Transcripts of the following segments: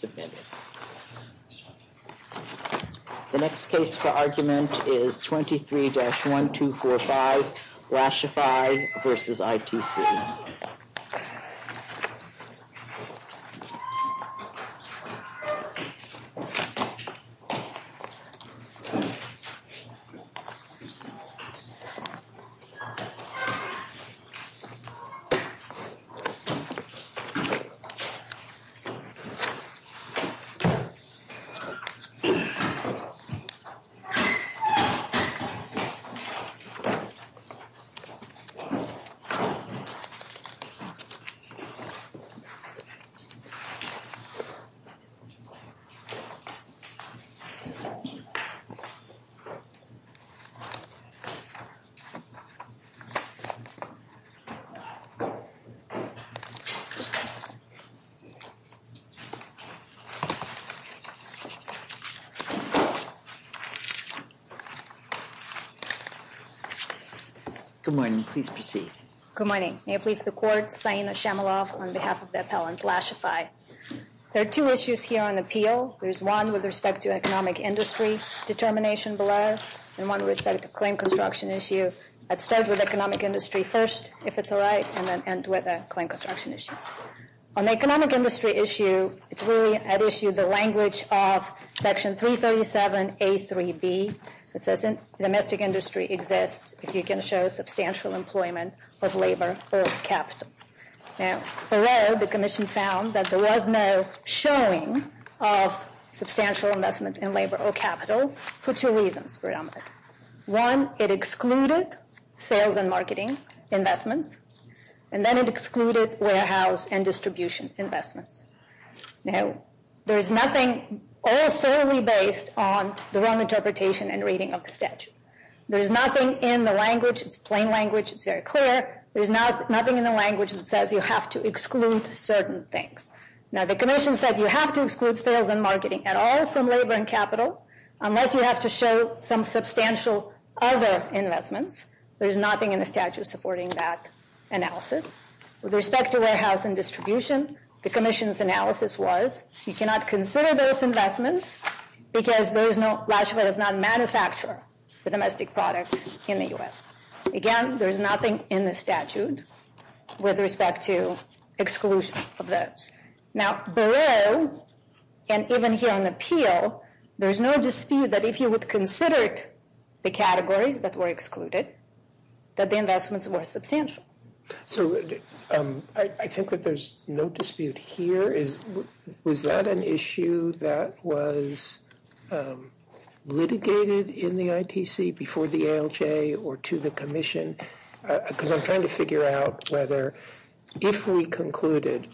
The next case for argument is 23-1245, Lashify v. ITC. Lashify v. ITC Good morning. Please proceed. Good morning. May it please the Court, Saina Shamalov on behalf of the appellant, Lashify. There are two issues here on appeal. There is one with respect to economic industry determination below and one with respect to claim construction issue. I'll start with economic industry first, if it's all right, and then end with a claim construction issue. On the economic industry issue, it's really at issue the language of Section 337A.3.B. It says domestic industry exists if you can show substantial employment of labor or capital. Now, below, the Commission found that there was no showing of substantial investment in labor or capital for two reasons, predominantly. One, it excluded sales and marketing investments, and then it excluded warehouse and distribution investments. Now, there's nothing all solely based on the wrong interpretation and reading of the statute. There's nothing in the language, it's plain language, it's very clear. There's nothing in the language that says you have to exclude certain things. Now, the Commission said you have to exclude sales and marketing at all from labor and capital unless you have to show some substantial other investments. There's nothing in the statute supporting that analysis. With respect to warehouse and distribution, the Commission's analysis was you cannot consider those investments because Lashify does not manufacture the domestic products in the U.S. Again, there's nothing in the statute with respect to exclusion of those. Now, below, and even here in the appeal, there's no dispute that if you would consider the categories that were excluded, that the investments were substantial. I think that there's no dispute here. Was that an issue that was litigated in the ITC before the ALJ or to the Commission? Because I'm trying to figure out whether if we concluded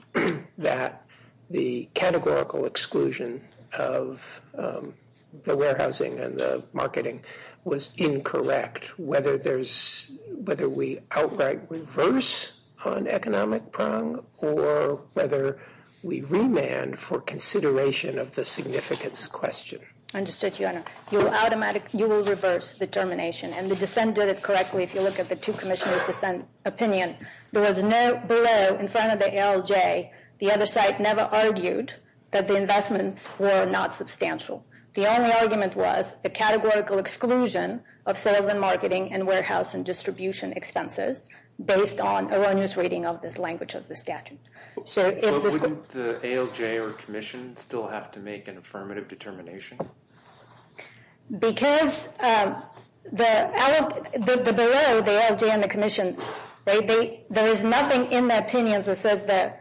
that the categorical exclusion of the warehousing and the marketing was incorrect, whether we outright reverse on economic prong or whether we remand for consideration of the significance question. Understood, Your Honor. You will reverse determination, and the defense did it correctly if you look at the two Commissioners' opinion. There was no, below, in front of the ALJ, the other side never argued that the investments were not substantial. The only argument was the categorical exclusion of sales and marketing and warehouse and distribution expenses based on erroneous reading of this language of the statute. So wouldn't the ALJ or Commission still have to make an affirmative determination? Because the, below the ALJ and the Commission, there is nothing in that opinion that says that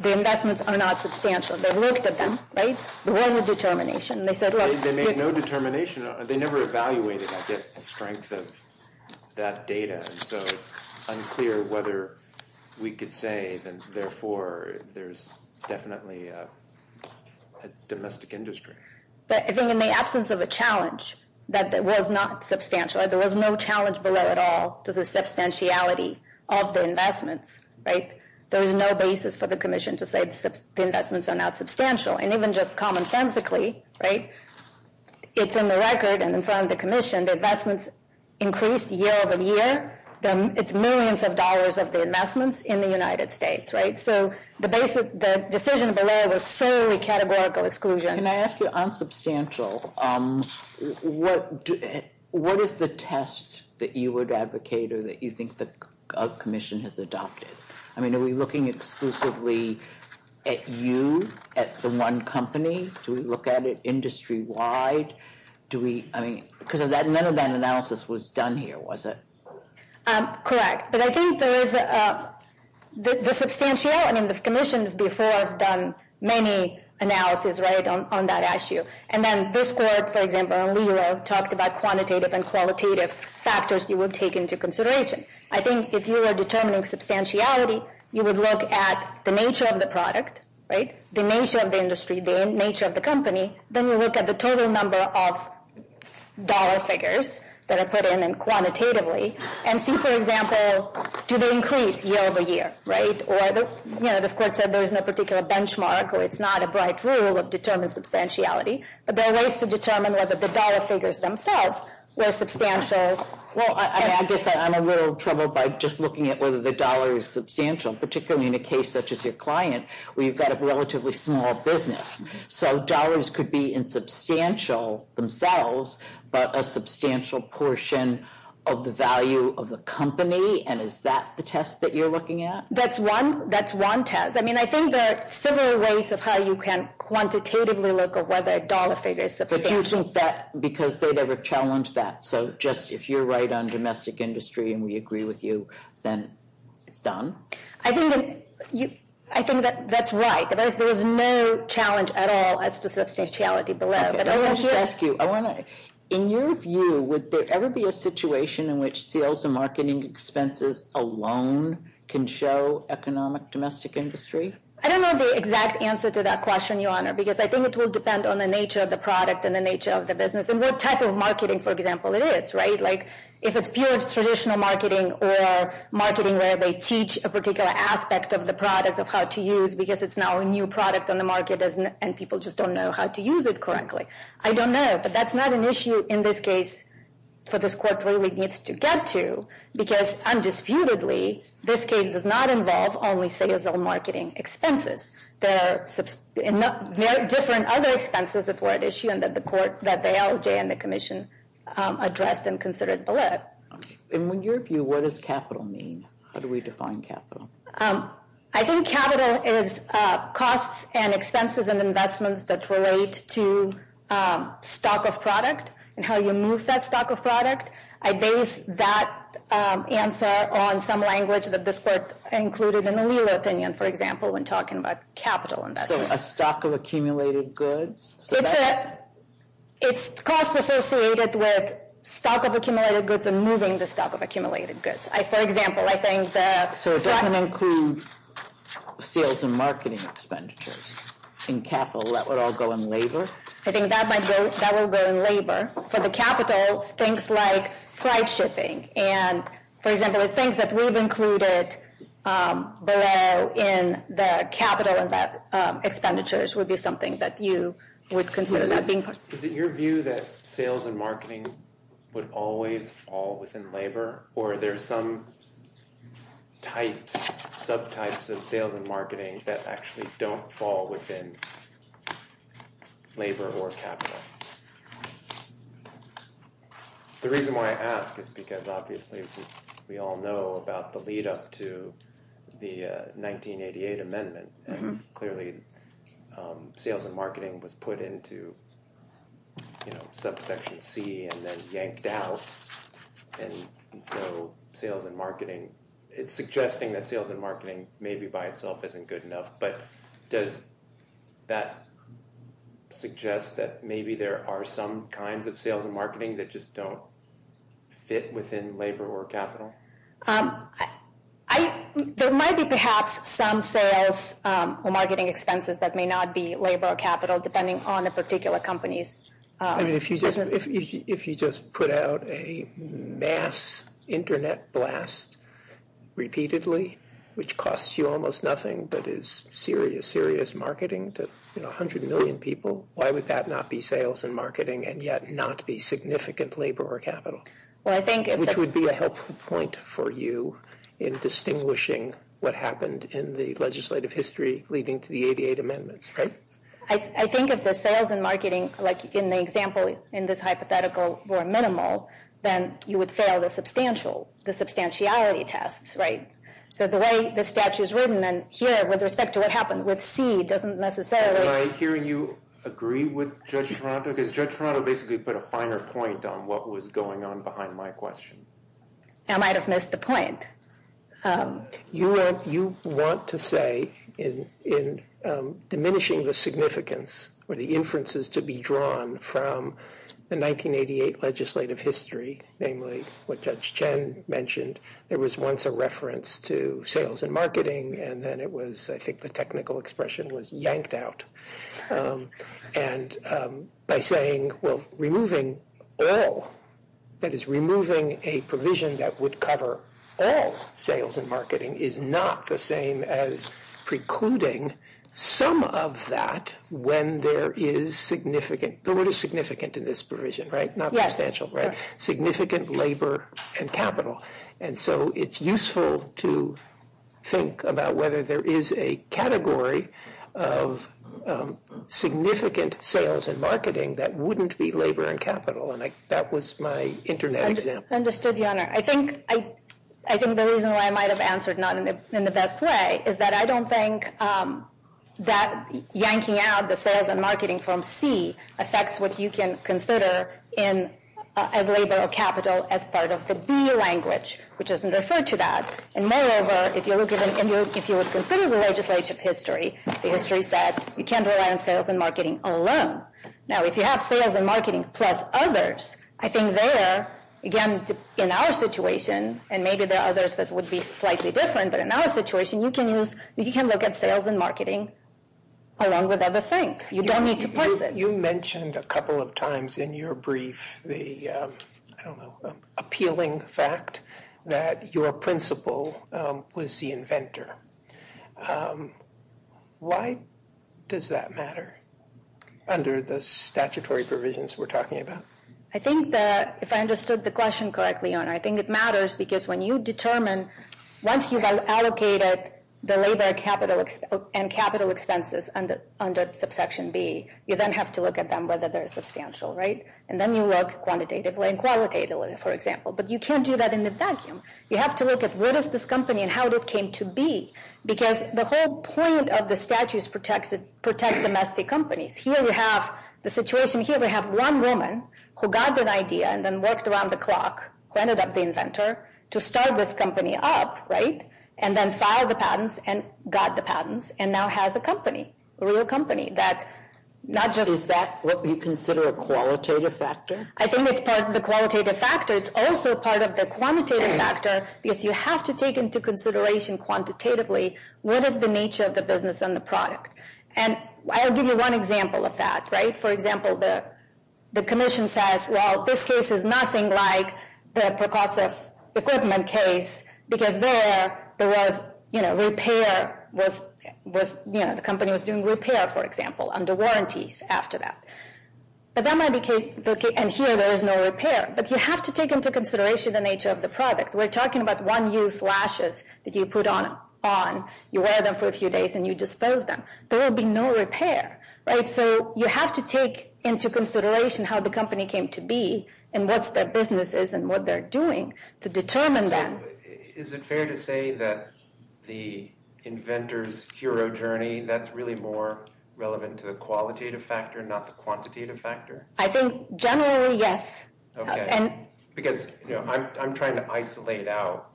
the investments are not substantial. They looked at them, right? The one with determination. They made no determination. They never evaluated, I guess, the strength of that data. So it's unclear whether we could say that, therefore, there's definitely a domestic industry. I think in the absence of a challenge that was not substantial, there was no challenge below at all to the substantiality of the investments, right? There is no basis for the Commission to say the investments are not substantial. And even just commonsensically, right, it's in the record and in front of the Commission, the investments increased year over year. It's millions of dollars of the investments in the United States, right? So the decision below was solely categorical exclusion. Can I ask you, on substantial, what is the test that you would advocate or that you think the Commission has adopted? I mean, are we looking exclusively at you, at the one company? Do we look at it industry-wide? Do we, I mean, because none of that analysis was done here, was it? Correct. But I think there is the substantial, and the Commission before has done many analyses, right, on that issue. And then this board, for example, talked about quantitative and qualitative factors you would take into consideration. I think if you were determining substantiality, you would look at the nature of the product, right, the nature of the industry, the nature of the company, then you look at the total number of dollar figures that are put in and quantitatively and see, for example, do they increase year over year, right? Or, you know, the court said there was no particular benchmark or it's not a bright rule of determined substantiality, but there are ways to determine whether the dollar figures themselves were substantial. Well, I guess I'm a little troubled by just looking at whether the dollar is substantial, particularly in a case such as your client where you've got a relatively small business. So dollars could be insubstantial themselves, but a substantial portion of the value of the company, and is that the test that you're looking at? That's one test. I mean, I think there are several ways of how you can quantitatively look at whether a dollar figure is substantial. But do you think that because they've ever challenged that, so just if you're right on domestic industry and we agree with you, then it's done? I think that's right, but there's no challenge at all as to substantiality below. Let me ask you, in your view, would there ever be a situation in which sales and marketing expenses alone can show economic domestic industry? I don't know the exact answer to that question, Your Honor, because I think it will depend on the nature of the product and the nature of the business and what type of marketing, for example, it is, right? Like if it's pure traditional marketing or marketing where they teach a particular aspect of the product of how to use because it's now a new product on the market and people just don't know how to use it correctly. I don't know, but that's not an issue in this case for this court where it needs to get to because undisputedly this case does not involve only sales or marketing expenses. There are different other expenses before the issue that the court, that they allegate and the commission addressed and considered below. In your view, what does capital mean? How do we define capital? I think capital is costs and expenses and investments that relate to stock of product and how you move that stock of product. I base that answer on some language that this court included in the Leela opinion, for example, when talking about capital investments. A stock of accumulated goods? It's costs associated with stock of accumulated goods and moving the stock of accumulated goods. For example, I think that… So it doesn't include sales and marketing expenditures. In capital, that would all go in labor? I think that would go in labor. For the capital, things like price shipping. For example, things that we've included below in the capital expenditures would be something that you would consider. Is it your view that sales and marketing would always fall within labor or there's some type, subtypes of sales and marketing that actually don't fall within labor or capital? The reason why I ask is because obviously we all know about the lead up to the 1988 amendment. Clearly, sales and marketing was put into subsection C and then yanked out. And so sales and marketing… It's suggesting that sales and marketing maybe by itself isn't good enough, but does that suggest that maybe there are some kinds of sales and marketing that just don't fit within labor or capital? There might be perhaps some sales or marketing expenses that may not be labor or capital depending on the particular companies. If you just put out a mass internet blast repeatedly, which costs you almost nothing but is serious, serious marketing to 100 million people, why would that not be sales and marketing and yet not be significant labor or capital? Which would be a helpful point for you in distinguishing what happened in the legislative history leading to the 1988 amendments, right? I think if the sales and marketing, like in the example in this hypothetical, were minimal, then you would fail the substantiality tests, right? So the way the statute is written here with respect to what happened with C doesn't necessarily… Am I hearing you agree with Judge Toronto? Because Judge Toronto basically put a finer point on what was going on behind my question. I might have missed the point. You want to say in diminishing the significance or the inferences to be drawn from the 1988 legislative history, namely what Judge Chen mentioned, there was once a reference to sales and marketing, and then it was I think the technical expression was yanked out. And by saying, well, removing all, that is removing a provision that would cover all sales and marketing is not the same as precluding some of that when there is significant – the word is significant in this provision, right? Not substantial, right? Significant labor and capital. And so it's useful to think about whether there is a category of significant sales and marketing that wouldn't be labor and capital. And that was my internet example. Understood, Your Honor. I think the reason why I might have answered not in the best way is that I don't think that yanking out the sales and marketing from C affects what you can consider as labor or capital as part of the B language, which isn't referred to that. And moreover, if you would consider the legislative history, the history says you can't rely on sales and marketing alone. Now, if you have sales and marketing plus others, I think there, again, in our situation, and maybe there are others that would be slightly different, but in our situation you can look at sales and marketing along with other things. You don't need to point to it. You mentioned a couple of times in your brief the, I don't know, appealing fact that your principal was the inventor. Why does that matter under the statutory provisions we're talking about? I think that if I understood the question correctly, Your Honor, I think it matters because when you determine once you've allocated the labor and capital expenses under subsection B, you then have to look at them, whether they're substantial, right? And then you look quantitatively and qualitatively, for example. But you can't do that in the statute. You have to look at what is this company and how it came to be, because the whole point of the statute is to protect domestic companies. Here we have the situation here. We have one woman who got the idea and then worked around the clock, who ended up being the inventor, to start this company up, right, and then filed the patents and got the patents and now has a company, a real company. Is that what we consider a qualitative factor? I think it's part of the qualitative factor. It's also part of the quantitative factor. If you have to take into consideration quantitatively, what is the nature of the business and the product? And I'll give you one example of that, right? For example, the commission says, well, this case is nothing like the percussive equipment case, because there was, you know, repair was, you know, the company was doing repair, for example, under warranties after that. And here there is no repair. But you have to take into consideration the nature of the product. We're talking about one-use lashes that you put on, you wear them for a few days and you dispose them. There will be no repair, right? So you have to take into consideration how the company came to be and what their business is and what they're doing to determine that. Is it fair to say that the inventor's hero journey, that's really more relevant to the qualitative factor, not the quantitative factor? I think generally, yes. Because, you know, I'm trying to isolate out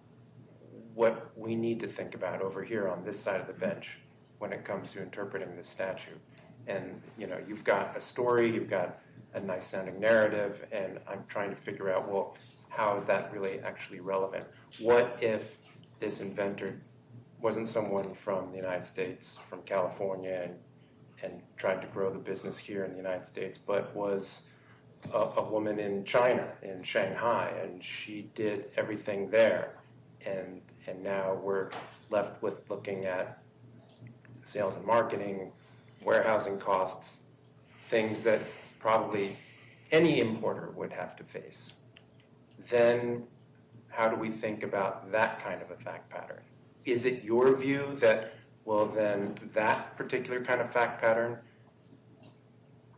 what we need to think about over here on this side of the bench when it comes to interpreting the statute. And, you know, you've got a story, you've got a nice sounding narrative and I'm trying to figure out, well, how is that really actually relevant? What if this inventor wasn't someone from the United States, from California and tried to grow the business here in the United States, but was a woman in China, in Shanghai, and she did everything there. And now we're left with looking at sales and marketing, warehousing costs, things that probably any importer would have to face. Then how do we think about that kind of a fact pattern? Is it your view that, well,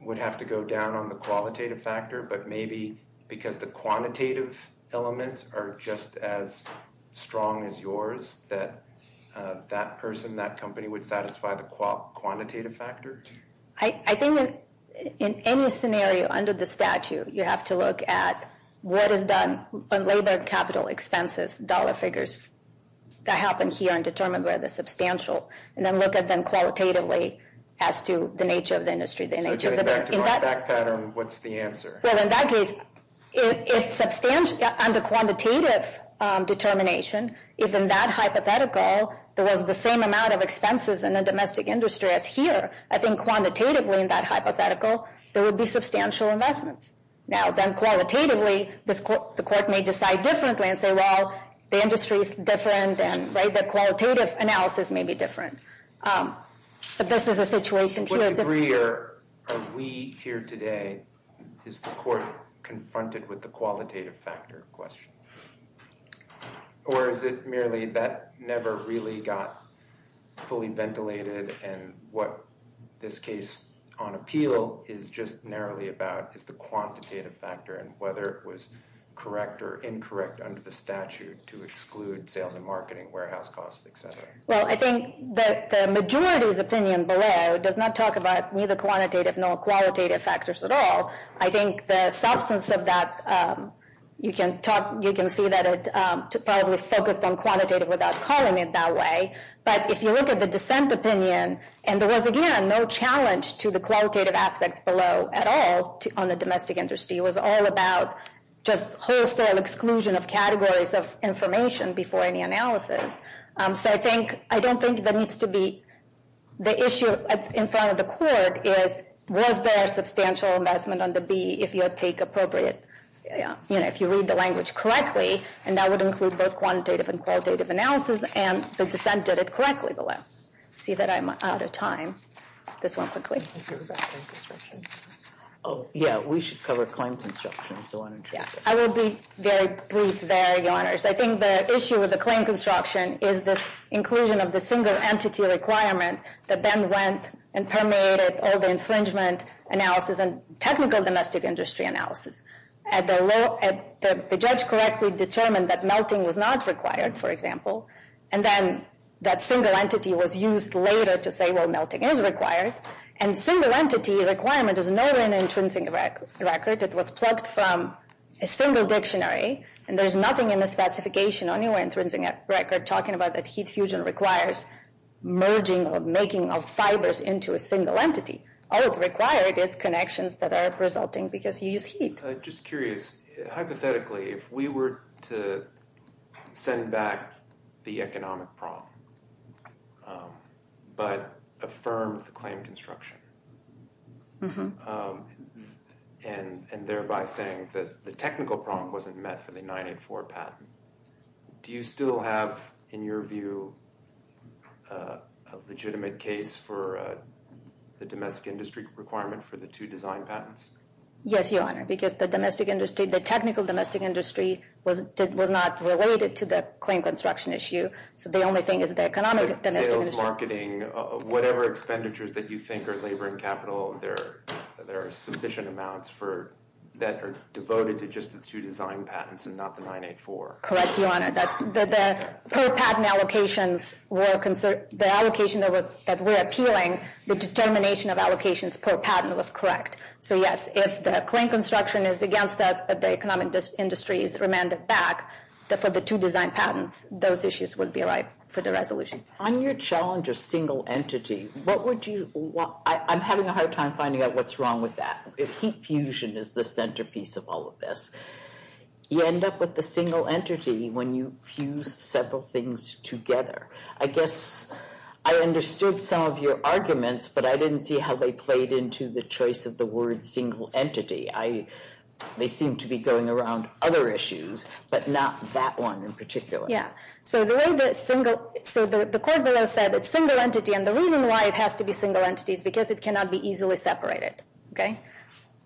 we have to go down on the qualitative factor, but maybe because the quantitative elements are just as strong as yours, that that person, that company would satisfy the quantitative factor? I think that in any scenario under the statute, you have to look at what is done on labor capital expenses, dollar figures that happen here and determine where the substantial, and then look at them qualitatively as to the nature of the industry, the nature of the business. So going back to my fact pattern, what's the answer? Well, in that case, under quantitative determination, if in that hypothetical, there was the same amount of expenses in the domestic industry as here, I think quantitatively in that hypothetical, there would be substantial investments. Now, then qualitatively, the court may decide differently and say, well, the industry is different, and the qualitative analysis may be different. But this is a situation. To what degree are we here today, is the court confronted with the qualitative factor question? Or is it merely that never really got fully ventilated and what this case on appeal is just narrowly about is the quantitative factor and whether it was correct or incorrect under the statute to exclude sales and marketing, warehouse costs, et cetera? Well, I think that the majority's opinion below does not talk about neither quantitative nor qualitative factors at all. I think the substance of that, you can see that it's probably focused on quantitative without calling it that way. But if you look at the dissent opinion, and there was, again, no challenge to the qualitative aspects below at all on the domestic industry. It was all about just wholesale exclusion of categories of information before any analysis. So I don't think that needs to be the issue in front of the court is, was there a substantial investment on the B if you take appropriate, you know, if you read the language correctly, and that would include both quantitative and qualitative analysis, and the dissent did it correctly below. I see that I'm out of time. This one quickly. Yeah, we should cover claim construction. I will be very brief there, Your Honors. I think the issue with the claim construction is the inclusion of the single entity requirement that then went and permeated all the infringement analysis and technical domestic industry analysis. The judge correctly determined that melting was not required, for example, and then that single entity was used later to say, well, melting is required. And single entity requirement is not an infringing record. It was plucked from a single dictionary, and there's nothing in the certification, anywhere in the infringing record talking about that heat fusion requires merging or making of fibers into a single entity. All required is connections that are resulting because you use heat. Just curious, hypothetically, if we were to send back the economic problem, but affirm the claim construction, and thereby saying that the technical problem wasn't met for the 984 patent, do you still have, in your view, a legitimate case for the domestic industry requirement for the two design patents? Yes, Your Honor, because the domestic industry, the technical domestic industry was not related to the claim construction issue. So the only thing is the economic domestic industry. Whatever expenditures that you think are labor and capital, there are sufficient amounts that are devoted to just the two design patents and not the 984. Correct, Your Honor. The per patent allocation, the allocation that we're appealing, the determination of allocations per patent was correct. So, yes, if the claim construction is against us, but the economic industry is remanded back for the two design patents, those issues would be right for the resolution. On your challenge of single entity, what would you, I'm having a hard time finding out what's wrong with that. If heat fusion is the centerpiece of all of this, you end up with the single entity when you fuse several things together. I guess I understood some of your arguments, but I didn't see how they played into the choice of the word single entity. They seem to be going around other issues, but not that one in particular. Yeah. So the way that single, so the court below said it's single entity, and the reason why it has to be single entity is because it cannot be easily separated. Okay.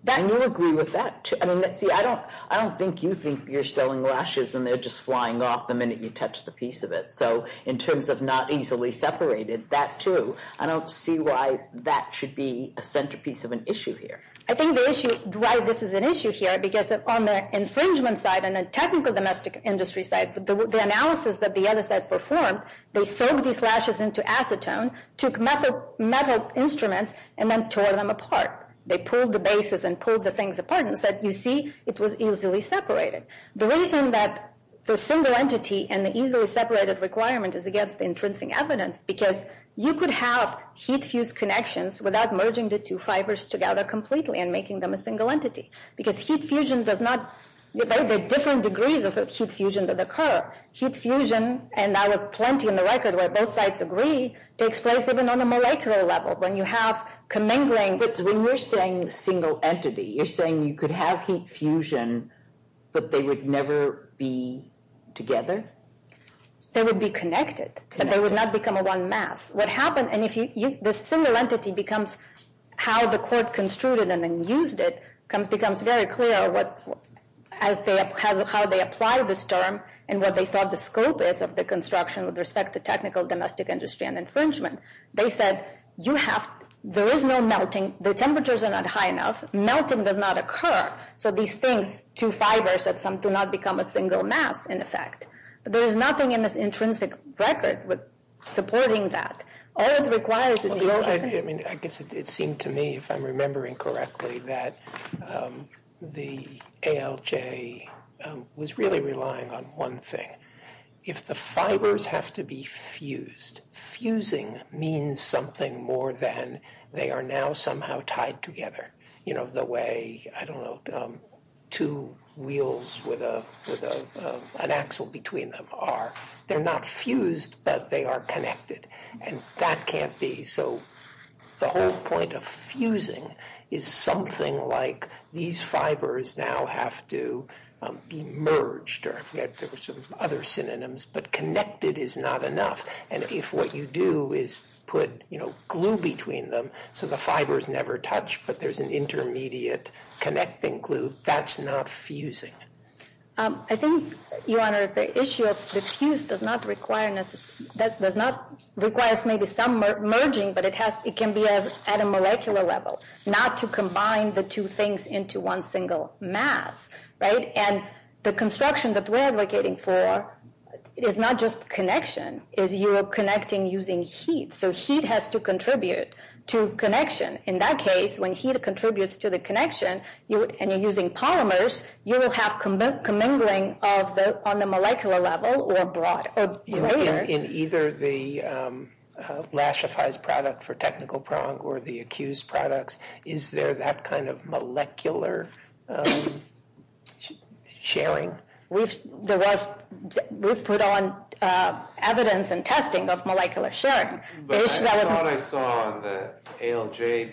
I do agree with that. I mean, let's see, I don't think you think you're selling lashes and they're just flying off the minute you touch the piece of it. So in terms of not easily separated, that too, I don't see why that should be a centerpiece of an issue here. I think the issue, why this is an issue here, because on the infringement side and a technical domestic industry side, the analysis that the other side performed, they sold these lashes into acetone, took metal instruments, and then tore them apart. They pulled the basis and pulled the things apart and said, you see, it was easily separated. The reason that the single entity and the easily separated requirement is against the intrinsic evidence, because you could have heat fuse connections without merging the two fibers together completely and making them a single entity, because heat fusion does not, there are different degrees of heat fusion that occur. Heat fusion, and I have plenty in the record where both sides agree, takes place even on a molecular level. When you have commingling, when you're saying single entity, you're saying you could have heat fusion, but they would never be together? They would be connected, but they would not become a one mass. What happens, and if the single entity becomes how the court construed it and then used it, it becomes very clear how they apply this term and what they said the scope is of the construction with respect to technical, domestic industry and infringement. They said, you have, there is no melting, the temperatures are not high enough, melting does not occur, so these things, two fibers, do not become a single mass in effect. There is nothing in this intrinsic record supporting that. All it requires is... I mean, I guess it seemed to me, if I'm remembering correctly, that the ALJ was really relying on one thing. If the fibers have to be fused, fusing means something more than they are now somehow tied together. You know, the way, I don't know, two wheels with an axle between them are, they're not fused, but they are connected and that can't be. So the whole point of fusing is something like, these fibers now have to be merged, or I forget, there were some other synonyms, but connected is not enough. And if what you do is put, you know, glue between them, so the fibers never touch, but there's an intermediate connecting glue, that's not fusing. I think, the issue of the fuse does not require, does not require maybe some merging, but it can be at a molecular level, not to combine the two things into one single mass, right? And the construction that we're advocating for is not just connection, is you're connecting using heat. So heat has to contribute to connection. In that case, when heat contributes to the connection and you're using polymers, you will have commingling of the, on the molecular level or broad, or layered. In either the, Lashify's product for technical prong or the accused products, is there that kind of molecular sharing? We've, there was, we've put on evidence and testing of molecular sharing. But I thought I saw the ALJ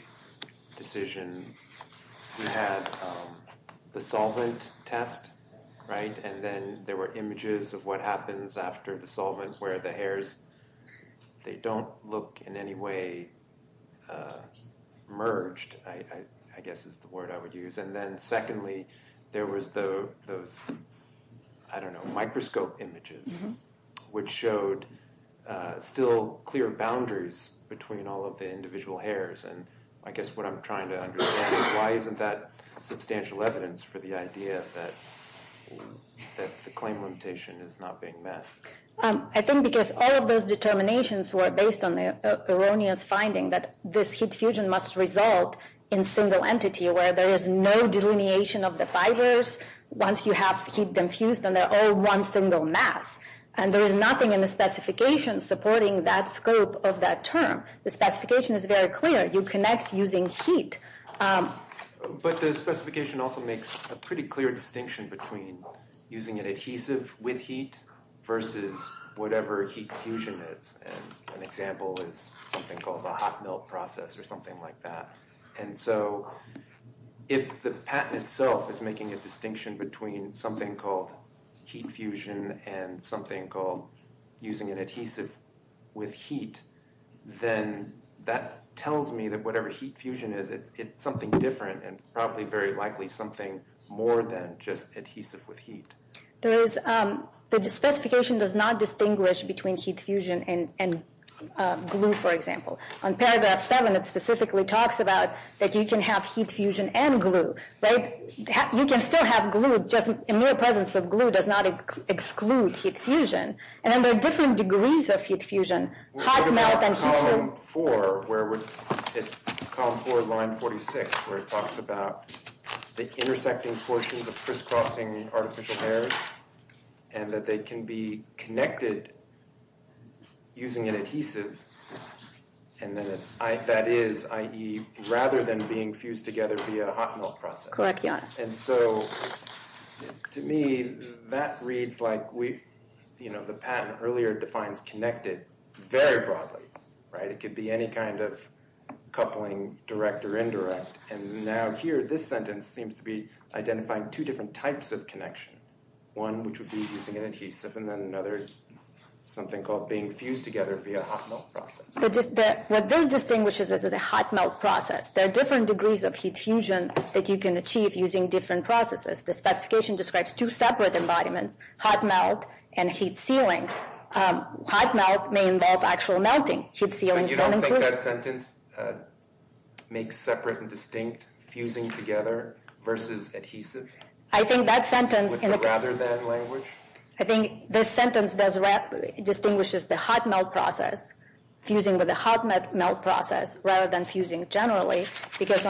decision, the solvent test, And then there were images of what happens after the solvent, where the hairs, they don't look in any way, merged. I, I guess it's the word I would use. And then secondly, there was the, I don't know, microscope images, which showed, still clear boundaries between all of the individual hairs. And I guess what I'm trying to understand, why isn't that substantial evidence for the idea that, that the claim limitation is not being met? I think because all of those determinations were based on the erroneous finding that this heat fusion must result in single entity, where there is no delineation of the fibers. Once you have heat confused, and they're all one single mass, and there is nothing in the specification supporting that scope of that term. The specification is very clear. You connect using heat. But the specification also makes a pretty clear distinction between using an adhesive with heat versus whatever heat fusion is. An example is something called the hot melt process or something like that. And so if the patent itself is making a distinction between something called heat fusion and something called using an adhesive with heat, then that tells me that whatever heat fusion is, it's something different and probably very likely something more than just adhesive with heat. The specification does not distinguish between heat fusion and glue, for example. On paragraph seven, it specifically talks about that you can have heat fusion and glue, right? You can still have glue just in your presence of glue does not exclude heat fusion. And then there are different degrees of heat fusion, hot melt and heat fusion. We'll talk about column four, where it's column four, line 46, where it talks about the intersecting portions of crisscrossing artificial hairs and that they can be connected using an adhesive. And then that is, i.e., rather than being fused together via a hot melt process. Correct, yeah. And so to me, that reads like we, you know, the patent earlier defines connected very broadly, right? It could be any kind of coupling direct or indirect. And now here, this sentence seems to be identifying two different types of connection. One, which would be using an adhesive and then another, something called being fused together via a hot melt process. What this distinguishes is a hot melt process. There are different degrees of heat fusion that you can achieve using different processes. The specification describes two separate embodiments, hot melt and heat sealing. Hot melt may involve actual melting, heat sealing. So you don't think that sentence makes separate and distinct fusing together versus adhesive? I think that sentence. Would you rather that language? I think this sentence distinguishes the hot melt process, fusing with a hot melt process, rather than fusing generally. Because,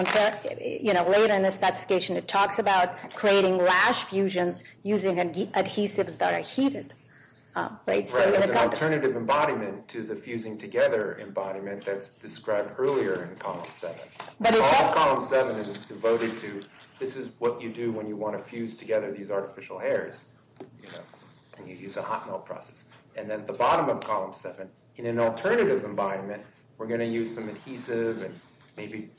you know, later in this application, it talks about creating rash fusion, using adhesive. Alternative embodiment is a fusing together embodiment that's described earlier in column seven. Column seven is devoted to, this is what you do when you want to fuse together these artificial hairs. And you use a hot melt process. And then at the bottom of column seven, in an alternative embodiment, we're going to use some adhesive and maybe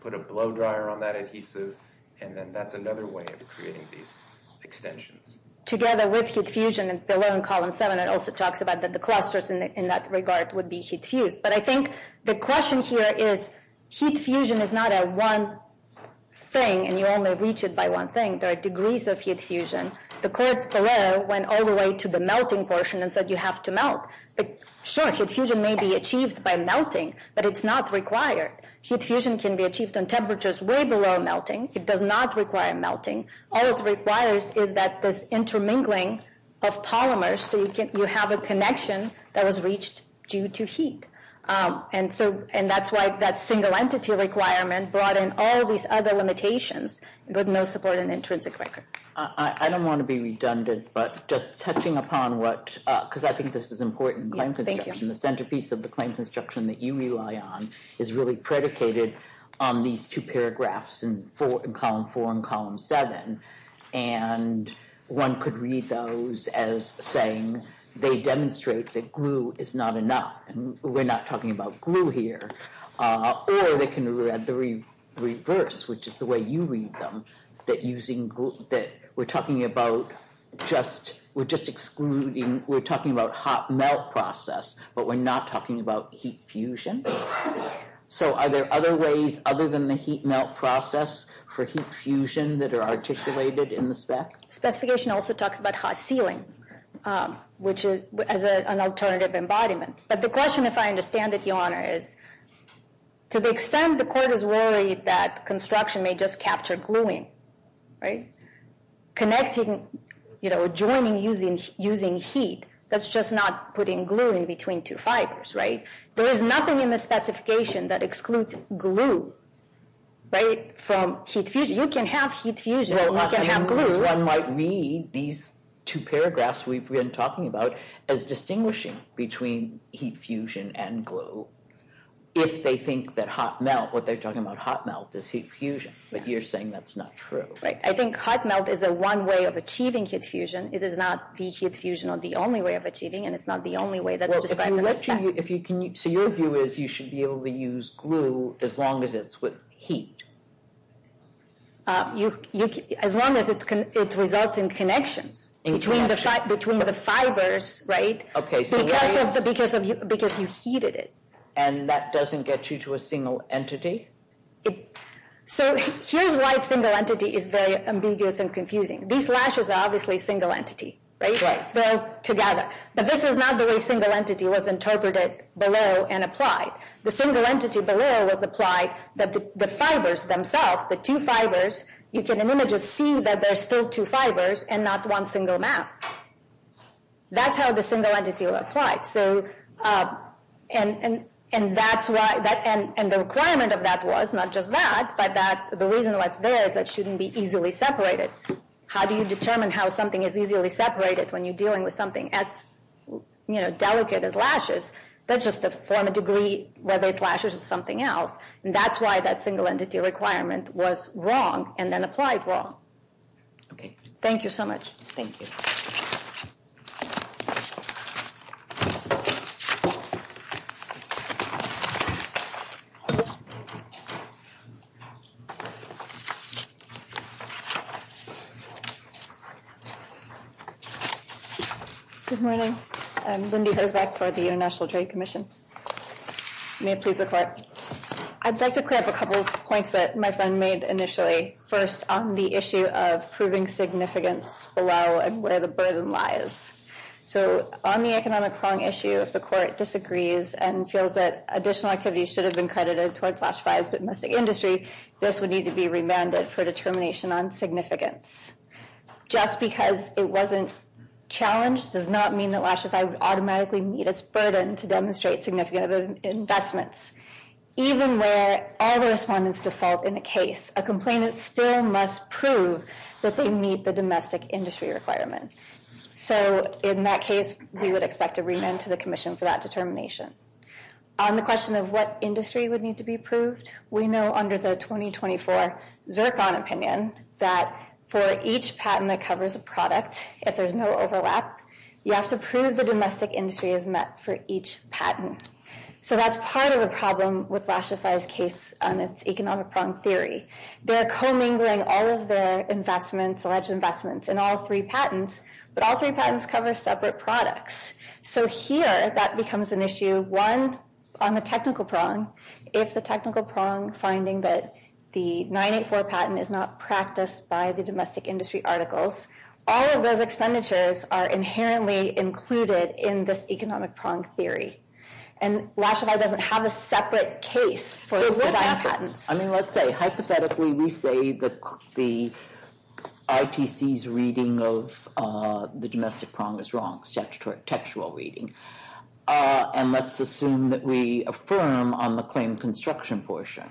put a blow dryer on it. And then that's another way of creating these extensions. Together with heat fusion is below in column seven. It also talks about the clusters in that regard would be heat fused. But I think the question here is, heat fusion is not a one thing and you only reach it by one thing. There are degrees of heat fusion. The court went all the way to the melting portion and said, you have to melt. But sure, heat fusion may be achieved by melting, but it's not required. Heat fusion can be achieved on temperatures way below melting. It does not require melting. All it requires is that there's intermingling of polymers. So you have a connection that was reached due to heat. And so, and that's why that single entity requirement brought in all these other limitations, but no support and intrinsic record. I don't want to be redundant, but just touching upon what, because I think this is important. The centerpiece of the claims instruction that you rely on is really predicated on these two paragraphs and four in column four and column seven. And one could read those as saying, they demonstrate that glue is not enough. We're not talking about glue here. Or they can read the reverse, which is the way you read them. That using that we're talking about just, we're just excluding. We're talking about hot melt process, but we're not talking about heat fusion. So are there other ways other than the heat melt process for heat fusion that are articulated in the spec? Specification also talks about hot ceiling, which is an alternative embodiment. But the question, if I understand it, your honor is to the extent the court is worried that construction may just capture gluing. Connecting, joining, using heat. That's just not putting glue in between two fibers, right? There is nothing in the specification that excludes glue, right? From heat fusion. You can have heat fusion, you can have glue. One might read these two paragraphs we've been talking about as distinguishing between heat fusion and glue. If they think that hot melt, what they're talking about hot melt is heat fusion. But you're saying that's not true. I think hot melt is a one way of achieving heat fusion. It is not the heat fusion or the only way of achieving, and it's not the only way that. So your view is you should be able to use glue as long as it's with heat. As long as it results in connection between the fibers, right? Because you heated it. And that doesn't get you to a single entity. So here's why single entity is very ambiguous and confusing. These lashes are obviously single entity, right? They're together. But this is not the way single entity was interpreted below and applied. The single entity below was applied, the fibers themselves, the two fibers, you can see that there's still two fibers and not one single mass. That's how the single entity was applied. And the requirement of that was not just that, but the reason why it's there is that it shouldn't be easily separated. How do you determine how something is easily separated when you're dealing with something as delicate as lashes? That's just the form of degree, whether it's lashes or something else. And that's why that single entity requirement was wrong and then applied wrong. Okay. Thank you so much. Thank you. Good morning. I'm going to be heading back to the international trade commission. May I please request. I'd like to clarify a couple points that my friend made initially first. On the issue of proving significance. Allow where the burden lies. So on the economic prong issue, if the court disagrees and feels that additional activities should have been credited toward classified domestic industry, this would need to be remanded for determination on significance. Just because it wasn't. Challenge does not mean that lashes. I would automatically meet its burden to demonstrate significant investments. Even where all the respondents default in a case, a complainant still must prove that they meet the domestic industry requirements. So in that case, we would expect a remand to the commission for that determination. On the question of what industry would need to be approved. We know under the 2024. Zircon opinion that for each patent, that covers a product. If there's no overlap. You have to prove the domestic industry is met for each patent. So that's part of a problem with fascist. It's economic theory. They're co-mingling all of their investments, alleged investments and all three patents, but all three patents cover separate products. So here that becomes an issue. On the technical prong. It's the technical prong finding that. The nine eight four patent is not practiced by the domestic industry articles. All of those expenditures are inherently included in this economic prong theory. And lastly, I don't have a separate case. I mean, let's say hypothetically, we say that the IPC is reading those. The domestic prong is wrong. Textual reading. And let's assume that we affirm on the claim construction portion.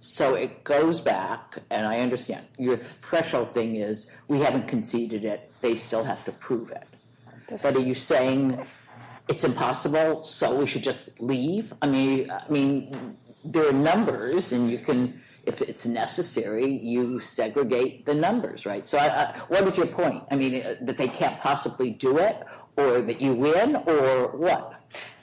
So it goes back. And I understand your threshold thing is we haven't conceded it. They still have to prove it. But are you saying it's impossible? So we should just leave. I mean, I mean, there are numbers and you can, if it's necessary, you segregate the numbers, right? So what was your point? I mean, but they can't possibly do it or that you win or what?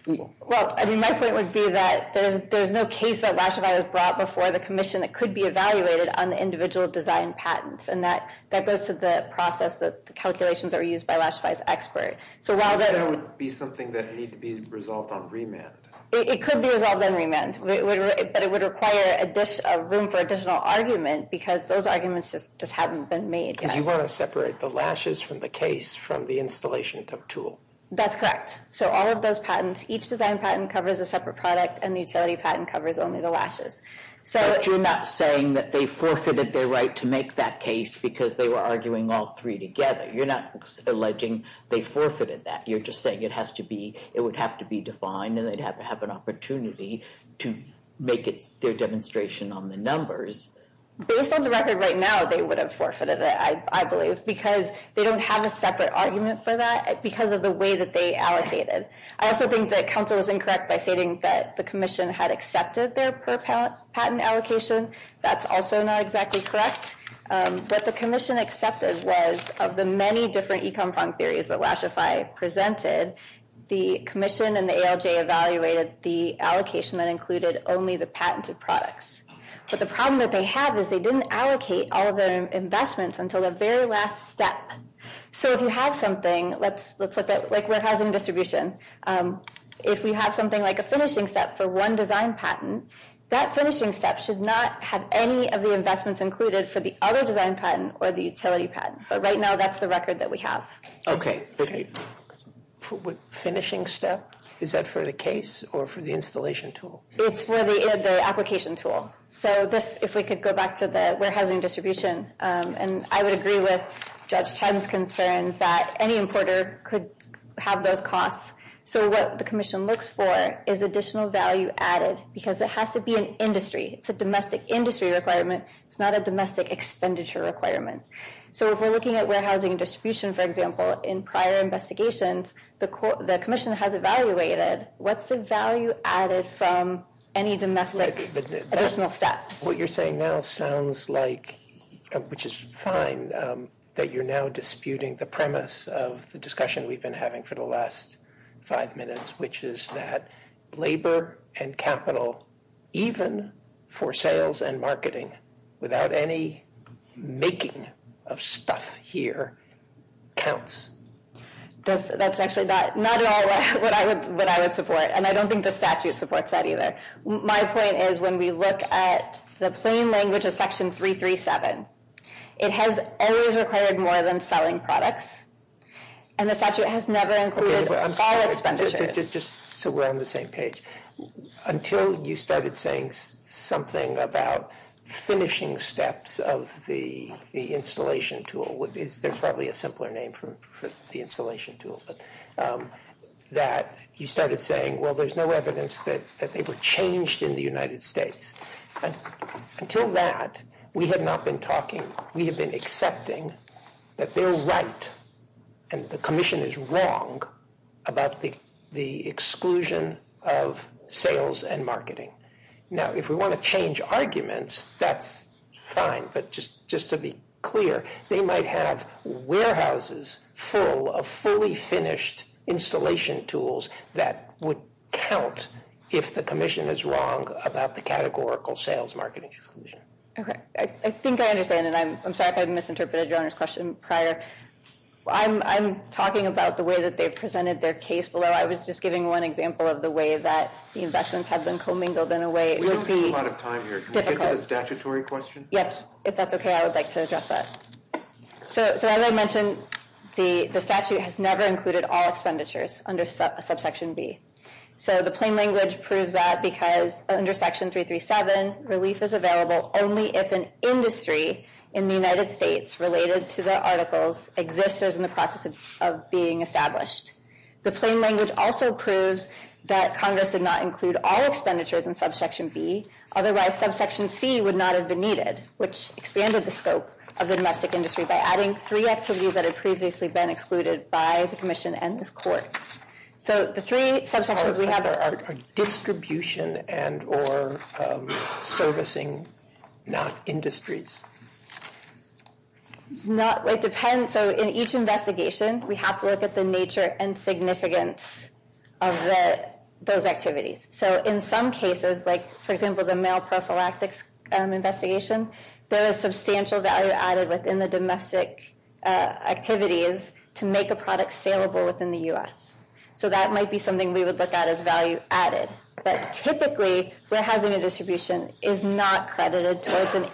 I mean, that's what it would be that there's no case that last night was brought before the commission that could be evaluated on the individual design patents. And that, that goes to the process that the calculations are used by last night's expert. So while that would be something that needs to be resolved on remand, it could be involved in remand, but it would require a dish of room for additional argument because those arguments just haven't been made. You want to separate the lashes from the case from the installation of tool. That's correct. So all of those patents, each design patent covers a separate product and the utility patent covers only the lashes. So you're not saying that they forfeited their right to make that case because they were arguing all three together. You're not alleging they forfeited that. You're just saying it has to be, it would have to be defined and they'd have to have an opportunity to make it their demonstration on the numbers. Based on the record right now, they would have forfeited it. I believe because they don't have a separate argument for that because of the way that they allocated. I also think that council was incorrect by stating that the commission had accepted their patent allocation. That's also not exactly correct. What the commission accepted was of the many different econ fund theories that Lashify presented, the commission and the ALJ evaluated the allocation that included only the patented products. But the problem that they have is they didn't allocate all of their investments until the very last step. So if you have something, let's look at like warehousing distribution. If you have something like a finishing step for one design patent, that finishing step should not have any of the investments included for the other design patent or the utility patent. But right now that's the record that we have. Okay. Finishing step. Is that for the case or for the installation tool? It's for the application tool. So this, if we could go back to the warehousing distribution, and I would agree with judge Chen's concerns that any importer could have those costs. So what the commission looks for is additional value added because it has to be an industry. It's a domestic industry requirement. It's not a domestic expenditure requirement. So if we're looking at warehousing distribution, for example, in prior investigations, the commission has evaluated. What's the value added from any domestic additional steps? What you're saying now sounds like, which is fine, that you're now disputing the premise of the discussion we've been having for the last five minutes, which is that labor and capital, even for sales and marketing without any making of stuff here counts. That's actually not at all what I would support. And I don't think the statute supports that either. My point is when we look at the plain language of section 337, it has always required more than selling products. And the statute has never included all expenditure. Just so we're on the same page, until you started saying something about finishing steps of the installation tool, which is probably a simpler name for the installation tool, that you started saying, well, there's no evidence that they were changed in the United States. Until that, we had not been talking. We have been accepting that they're right. And the commission is wrong about the exclusion of sales and marketing. Now, if we want to change arguments, that's fine. But just to be clear, they might have warehouses full of fully finished installation tools that would count if the commission was wrong about the categorical sales marketing. Okay. I think I understand. And I'm sorry if I misinterpreted your question prior. I'm talking about the way that they presented their case below. I was just giving one example of the way that the investments have been commingled in a way. Statutory question. Yes. If that's okay, I would like to address that. So as I mentioned, The statute has never included all expenditures under subsection B. So the plain language proves that because under section 337, relief is available only if an industry in the United States related to the articles exists or is in the process of being established. The plain language also proves that Congress did not include all expenditures in subsection B. Otherwise, subsection C would not have been needed, which expanded the scope of the domestic industry by adding three activities that had previously been included by the commission and this is a different question. So the three subsections we have are distribution and or servicing, not industries. It depends. So in each investigation, we have to look at the nature and significance of those activities. So in some cases, like for example, the male prophylaxis investigation, there is substantial value added within the domestic activities to make a product saleable within the US. So that might be something we would look at as value added, but typically we're having a distribution is not credited towards an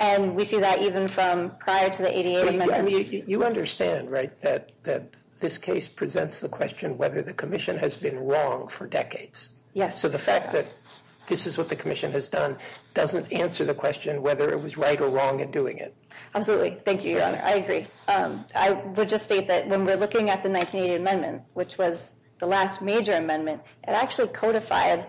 And we see that even from prior to the ADA. You understand, right? That, that this case presents the question, whether the commission has been wrong for decades. Yeah. So the fact that this is what the commission has done, doesn't answer the question, whether it was right or wrong in doing it. Absolutely. Thank you. I agree. I would just say that when we're looking at the 1980 amendment, which was the last major amendment, it actually codified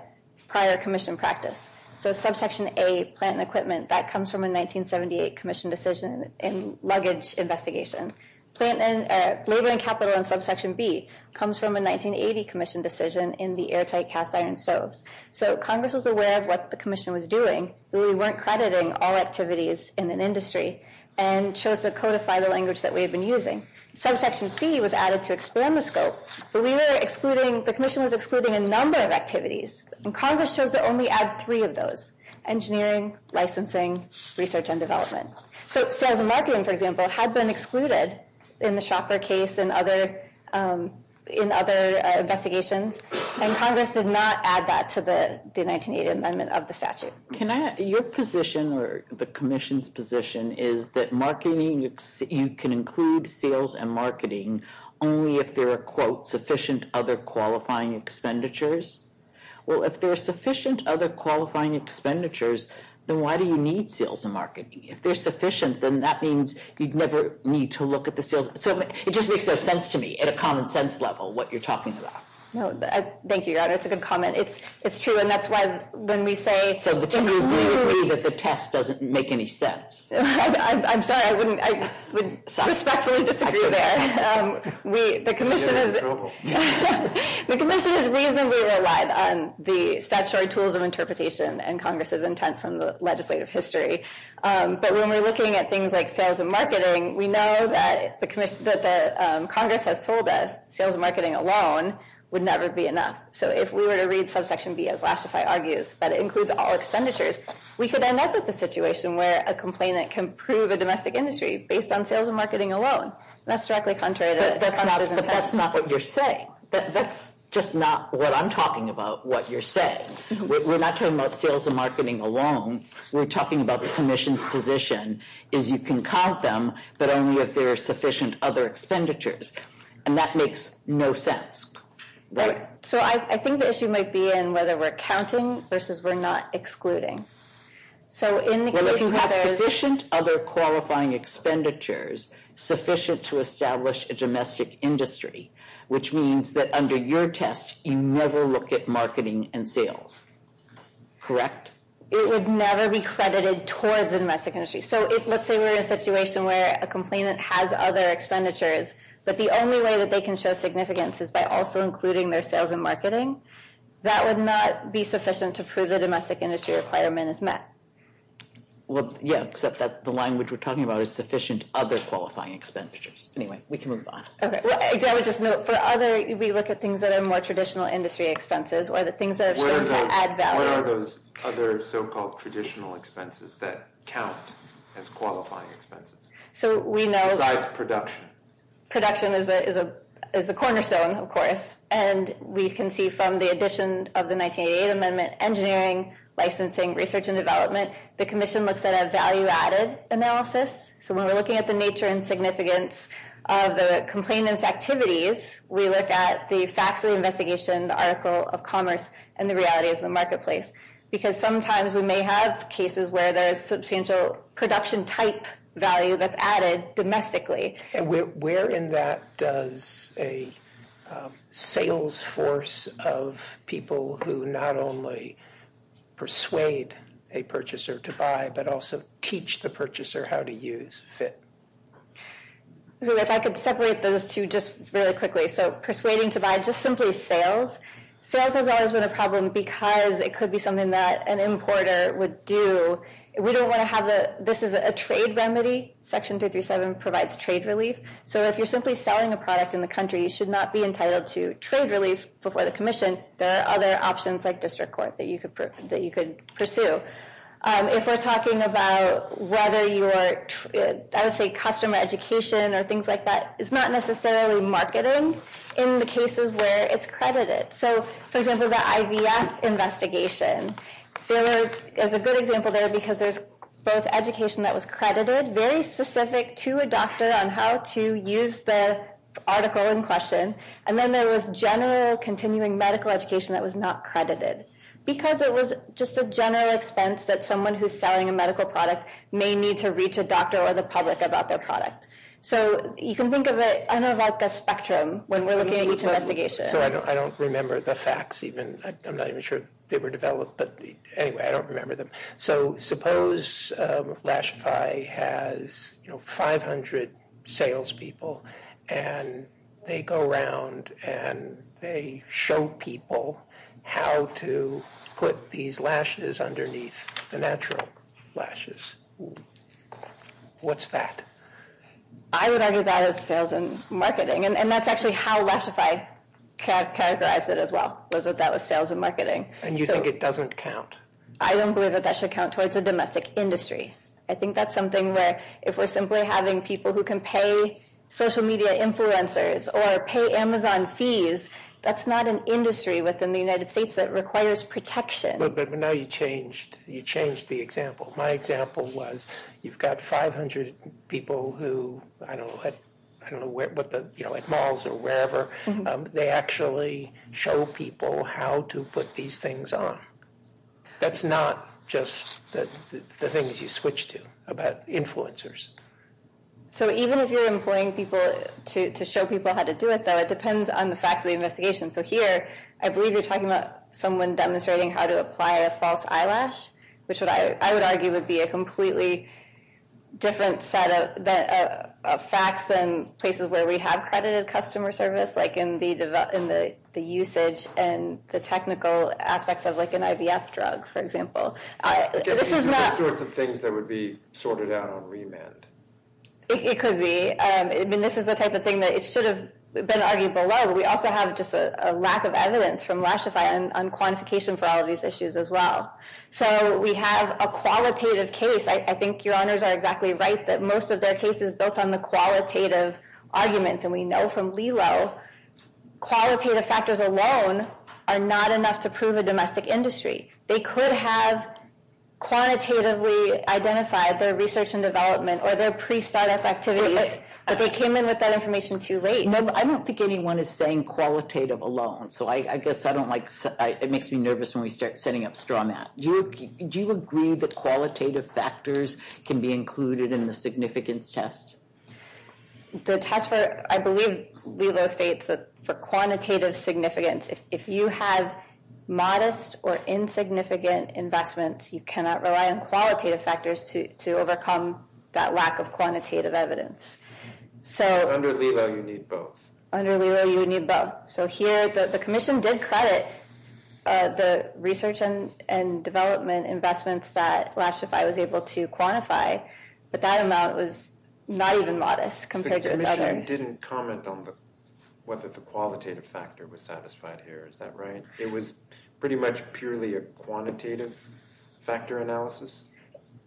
prior commission practice. So subsection a plant and equipment that comes from a 1978 commission decision and luggage investigation. Labor and capital and subsection B comes from a 1980 commission decision in the airtight cast iron soaps. So Congress was aware of what the commission was doing. We weren't crediting all activities in an industry and chose to codify the language that we've been using. Subsection C was added to expand the scope, but we were excluding, the commission was excluding a number of activities and Congress chose to only add three of those engineering, licensing, research, and development. So marketing, for example, had been excluded in the shopper case and other in other investigations. And Congress did not add that to the 1980 amendment of the statute. Can I ask your position or the commission's position is that marketing you can include sales and marketing only if there are quote sufficient other qualifying expenditures? Well, if there are sufficient other qualifying expenditures, then why do you need sales and marketing? If there's sufficient, then that means you'd never need to look at the field. So it just makes no sense to me at a common sense level, what you're talking about. Thank you. That's a good comment. It's true. And that's why when we say, the test doesn't make any sense. I'm sorry. I wouldn't. The commission is reasonably relied on the statutory tools of interpretation and Congress's intent from the legislative history. But when we're looking at things like sales and marketing, we know that the commission that the Congress has told us sales and marketing alone would never be enough. So if we were to read subsection B as last, I argue that it includes all expenditures. We could end up with a situation where a complainant can prove a domestic industry based on sales and marketing alone. That's exactly contrary. That's not what you're saying. That's just not what I'm talking about. What you're saying. We're not talking about sales and marketing alone. We're talking about the commission's position is you can count them, but only if there are sufficient other expenditures. And that makes no sense. So I think the issue might be in whether we're counting versus we're not excluding. Other qualifying expenditures sufficient to establish a domestic industry, which means that under your test, you never look at marketing and sales. Correct. It would never be credited towards the domestic industry. So let's say we're in a situation where a complainant has other expenditures, but they're not included in their sales and marketing, that would not be sufficient to prove the domestic industry requirement is met. Yeah. Except that the language we're talking about is sufficient other qualifying expenditures. Anyway, we can move on. Okay. I would just note for other, we look at things that are more traditional industry expenses or the things that are shown to add value. What are those other so-called traditional expenses that count as qualifying expenses? So we know that. Production is a cornerstone of course. And we can see from the addition of the 1988 amendment, engineering, licensing, research and development. The commission looks at a value added analysis. So when we're looking at the nature and significance of the complainants activities, we look at the facts of investigation, the article of commerce and the reality of the marketplace, because sometimes we may have cases where there's substantial production type value that's added domestically. And where in that does a sales force of people who not only persuade a purchaser to buy, but also teach the purchaser how to use FIT? If I could separate those two just really quickly. So persuading to buy, just simply sales. Sales has always been a problem because it could be something that an importer would do. This is a trade remedy. Section 337 provides trade relief. So if you're simply selling the product in the country, you should not be entitled to trade relief before the commission. There are other options like district court that you could pursue. If we're talking about whether your, I would say, customer education or things like that, it's not necessarily marketing in the cases where it's credited. So for example, the IVF investigation. There's a good example there because there's both education that was credited, very specific to a doctor, on how to use the article in question. And then there was general continuing medical education that was not credited because it was just a general expense that someone who's selling a medical product may need to reach a doctor or the public about their product. So you can think of it, I don't know about the spectrum, when we're looking at each investigation. I don't remember the facts even. I'm not even sure they were developed, but anyway, I don't remember them. So suppose Lashify has, you know, 500 salespeople and they go around and they show people how to put these lashes underneath the natural lashes. What's that? I would argue that is sales and marketing. And that's actually how Lashify characterized it as well. That was sales and marketing. And you think it doesn't count? I don't believe that that should count towards the domestic industry. I think that's something where if we're simply having people who can pay social media influencers or pay Amazon fees, that's not an industry within the United States that requires protection. But now you changed the example. My example was you've got 500 people who, I don't know, like malls or wherever, they actually show people how to put these things on. That's not just the things you switch to about influencers. So even if you're employing people to show people how to do it, though, it depends on the facts of the investigation. So here I believe you're talking about someone demonstrating how to apply a false eyelash, which I would argue would be a completely different set of facts than places where we have credited customer service, like in the usage and the technical aspects of like an IVF drug, for example. This was not. Things that would be sorted out on remand. It could be. I mean, this is the type of thing that it should have been argued below. We also have just a lack of evidence from Lashify on quantification for all these issues as well. So we have a qualitative case. I think your honors are exactly right that most of their cases built on the qualitative argument. And we know from Lilo, qualitative factors alone are not enough to prove a domestic industry. They could have quantitatively identified their research and development or their pre-startup activities, but they came in with that information too late. I don't think anyone is saying qualitative alone. So I guess I don't like, it makes me nervous when we start setting up straw mat. Do you agree that qualitative factors can be included in the significance test? I believe Lilo states that for quantitative significance, if you have modest or insignificant investments, you cannot rely on qualitative factors to, to overcome that lack of quantitative evidence. So under Lilo you need both. Under Lilo you need both. So here, the commission did credit the research and development investments that Lashify was able to quantify, but that amount was not even modest compared to the others. The commission didn't comment on whether the qualitative factor was satisfied here. Is that right? It was pretty much purely a quantitative factor analysis.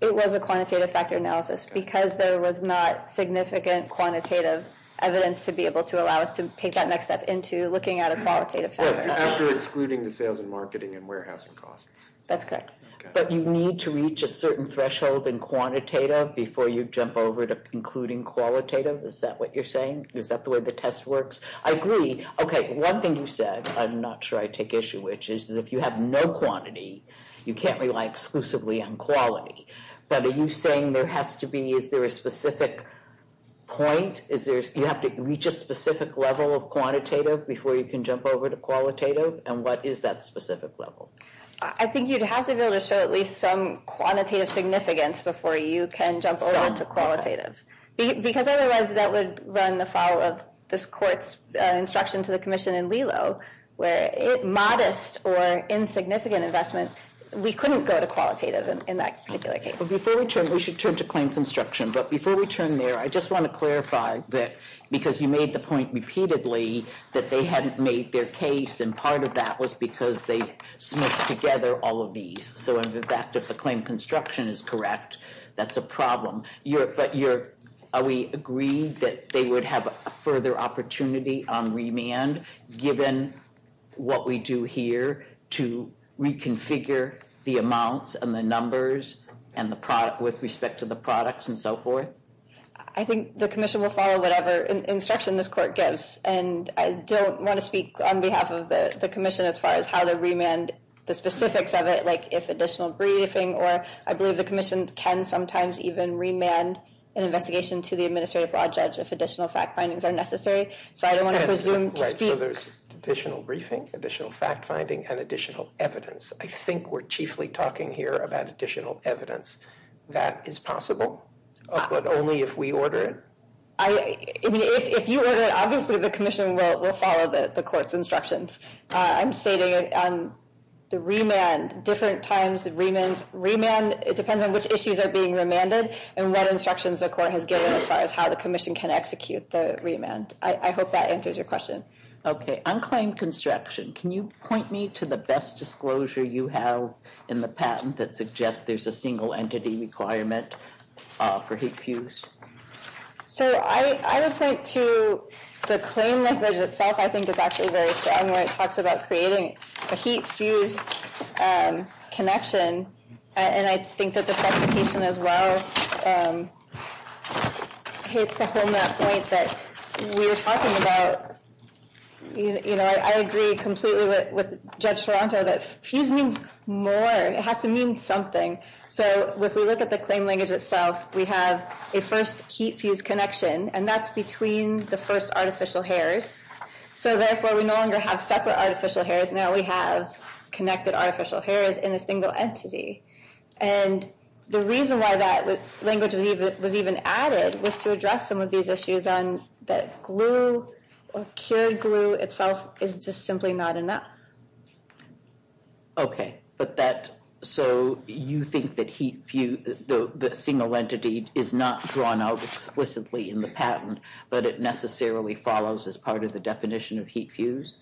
It was a quantitative factor analysis because there was not significant quantitative evidence to be able to allow us to take that next step into looking at a qualitative factor. Actually excluding the sales and marketing and warehousing costs. That's correct. But you need to reach a certain threshold in quantitative before you jump over to including qualitative. Is that what you're saying? Is that the way the test works? I agree. Okay. One thing you said, I'm not sure I take issue, which is that if you have no quantity, you can't rely exclusively on quality. But are you saying there has to be a specific point? You have to reach a specific level of quantitative before you can jump over to qualitative? And what is that specific level? I think you'd have to be able to show at least some quantitative significance before you can jump over to qualitative. Because otherwise that would run the follow-up, this court's instruction to the commission in Lelo, where modest or insignificant investment, we couldn't go to qualitative in that particular case. Before we turn, we should turn to claim construction. But before we turn there, I just want to clarify that because you made the point repeatedly that they hadn't made their case. And part of that was because they mixed together all of these. So in fact, if the claim construction is correct, that's a problem. Are we agreed that they would have a further opportunity on remand, given what we do here to reconfigure the amounts and the numbers and the product with respect to the products and so forth? I think the commission will follow whatever instruction this court gives. And I don't want to speak on behalf of the commission as far as how to remand the specifics of it, like if additional briefing, or I believe the commission can sometimes even remand an investigation to the administrative law judge if additional fact findings are necessary. So I don't want to presume to speak. So there's additional briefing, additional fact finding, and additional evidence. I think we're chiefly talking here about additional evidence that is possible, but only if we order it. I mean, if you order it, obviously the commission will follow the court's instructions. I'm stating the remand, different times the remand, it depends on which issues are being remanded and what instructions the court has given as far as how the commission can execute the remand. I hope that answers your question. Okay. Unclaimed construction. Can you point me to the best disclosure you have in the patent that suggests there's a single entity requirement for heat fused? So I would point to the claim language itself. I think it's actually very strong when it talks about creating a heat fused connection. And I think that the specification as well, I hate to hit on that point, but we were talking about, you know, I agree completely with judge Toronto that fused means more. It has to mean something. So if we look at the claim language itself, we have a first heat fused connection and that's between the first artificial hairs. So therefore we no longer have separate artificial hairs. Now we have connected artificial hairs in a single entity. And the reason why that language was even added was to address some of these issues on that glue or cured glue itself is just simply not enough. Okay. But that, so you think that heat fuse, the single entity is not drawn out explicitly in the patent, but it necessarily follows as part of the definition of heat fuse.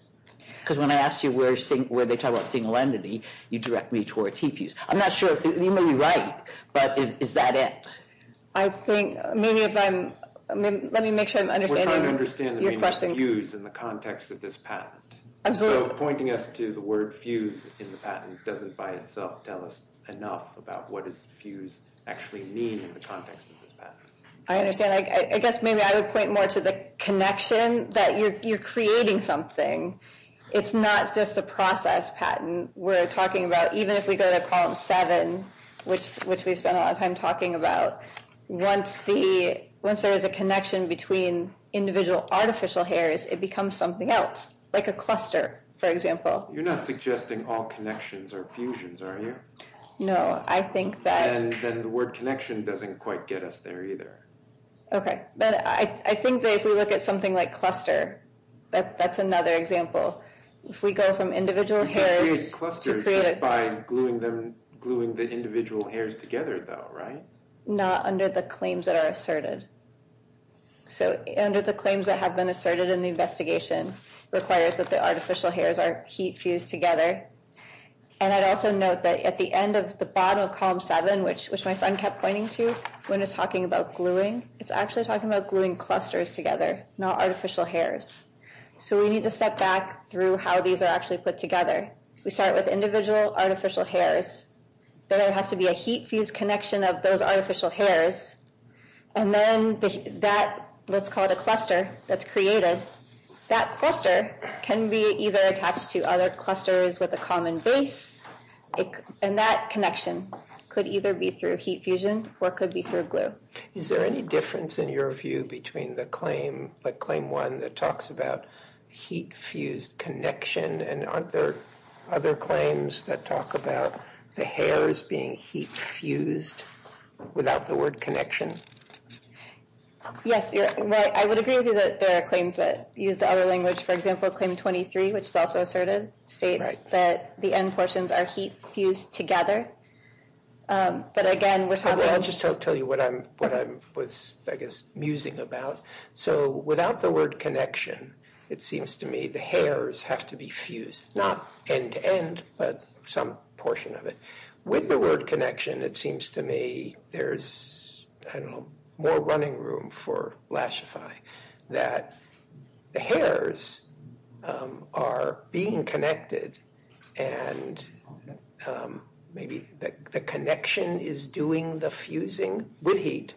Because when I asked you where they tell us single entity, you direct me towards heat fuse. I'm not sure if you may be right, but is that it? I think maybe if I'm, let me make sure I'm understanding. We're trying to understand the name fused in the context of this patent. So pointing us to the word fused in the patent doesn't by itself tell us enough about what is fused actually mean in the context of this patent. I understand. I guess maybe I would point more to the connection that you're, you're creating something. It's not just a process patent. We're talking about, even if we go to column seven, which we've spent a lot of time talking about, once the, once there is a connection between individual artificial hairs, it becomes something else like a cluster. For example, you're not suggesting all connections are fusions, are you? No. I think that the word connection doesn't quite get us there either. Okay. But I think that if we look at something like cluster, that's another example. If we go from individual hairs. By gluing them, gluing the individual hairs together though, right? Not under the claims that are asserted. So under the claims that have been asserted in the investigation requires that the artificial hairs are heat fused together. And I'd also note that at the end of the bottom of column seven, which, which my son kept pointing to when it's talking about gluing, it's actually talking about gluing clusters together, not artificial hairs. So we need to step back through how these are actually put together. We start with individual artificial hairs. There has to be a heat fuse connection of those artificial hairs. And then that let's call it a cluster. That's creative. That cluster can be either attached to other clusters with a common base. And that connection could either be through heat fusion or could be through glue. Is there any difference in your view between the claim, like claim one that talks about heat fused connection and other, other claims that talk about the hairs being heat fused without the word connection? Yes. I would agree with you that there are claims that use the other language. For example, claim 23, which is also assertive, state that the end portions are heat fused together. But again, we're talking about. I'll just tell you what I'm, what I was, I guess, musing about. So without the word connection, it seems to me, the hairs have to be fused, not end to end, but some portion of it. With the word connection, it seems to me there's, I don't know, more running room for lashify that the hairs are being connected. And maybe the connection is doing the fusing with heat,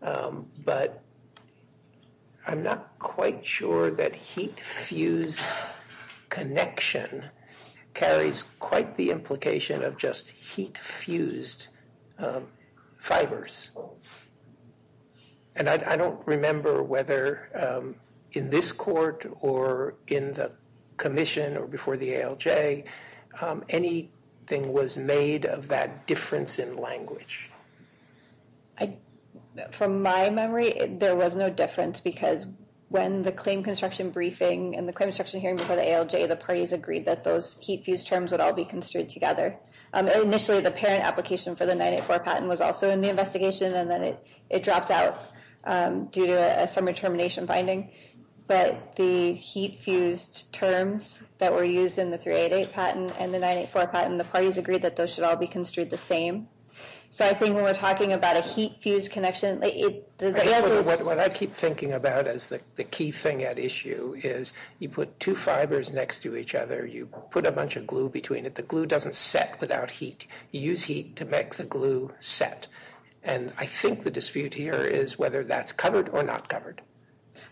but I'm not quite sure that heat fused connection carries quite the implication of just heat fused fibers. And I don't remember whether in this court or in the commission or before the ALJ, anything was made of that difference in language. From my memory, there was no difference because when the claim construction briefing and the construction hearing before the ALJ, the parties agreed that those heat fused terms would all be construed together. Initially the parent application for the 9-8-4 patent was also in the investigation and then it dropped out due to some determination finding. But the heat fused terms that were used in the 3-8-8 patent and the 9-8-4 patent, the parties agreed that those should all be construed the same. So I think when we're talking about a heat fused connection. What I keep thinking about is the key thing at issue is you put two fibers next to each other, you put a bunch of glue between it. The glue doesn't set without heat. You use heat to make the glue set. And I think the dispute here is whether that's covered or not covered.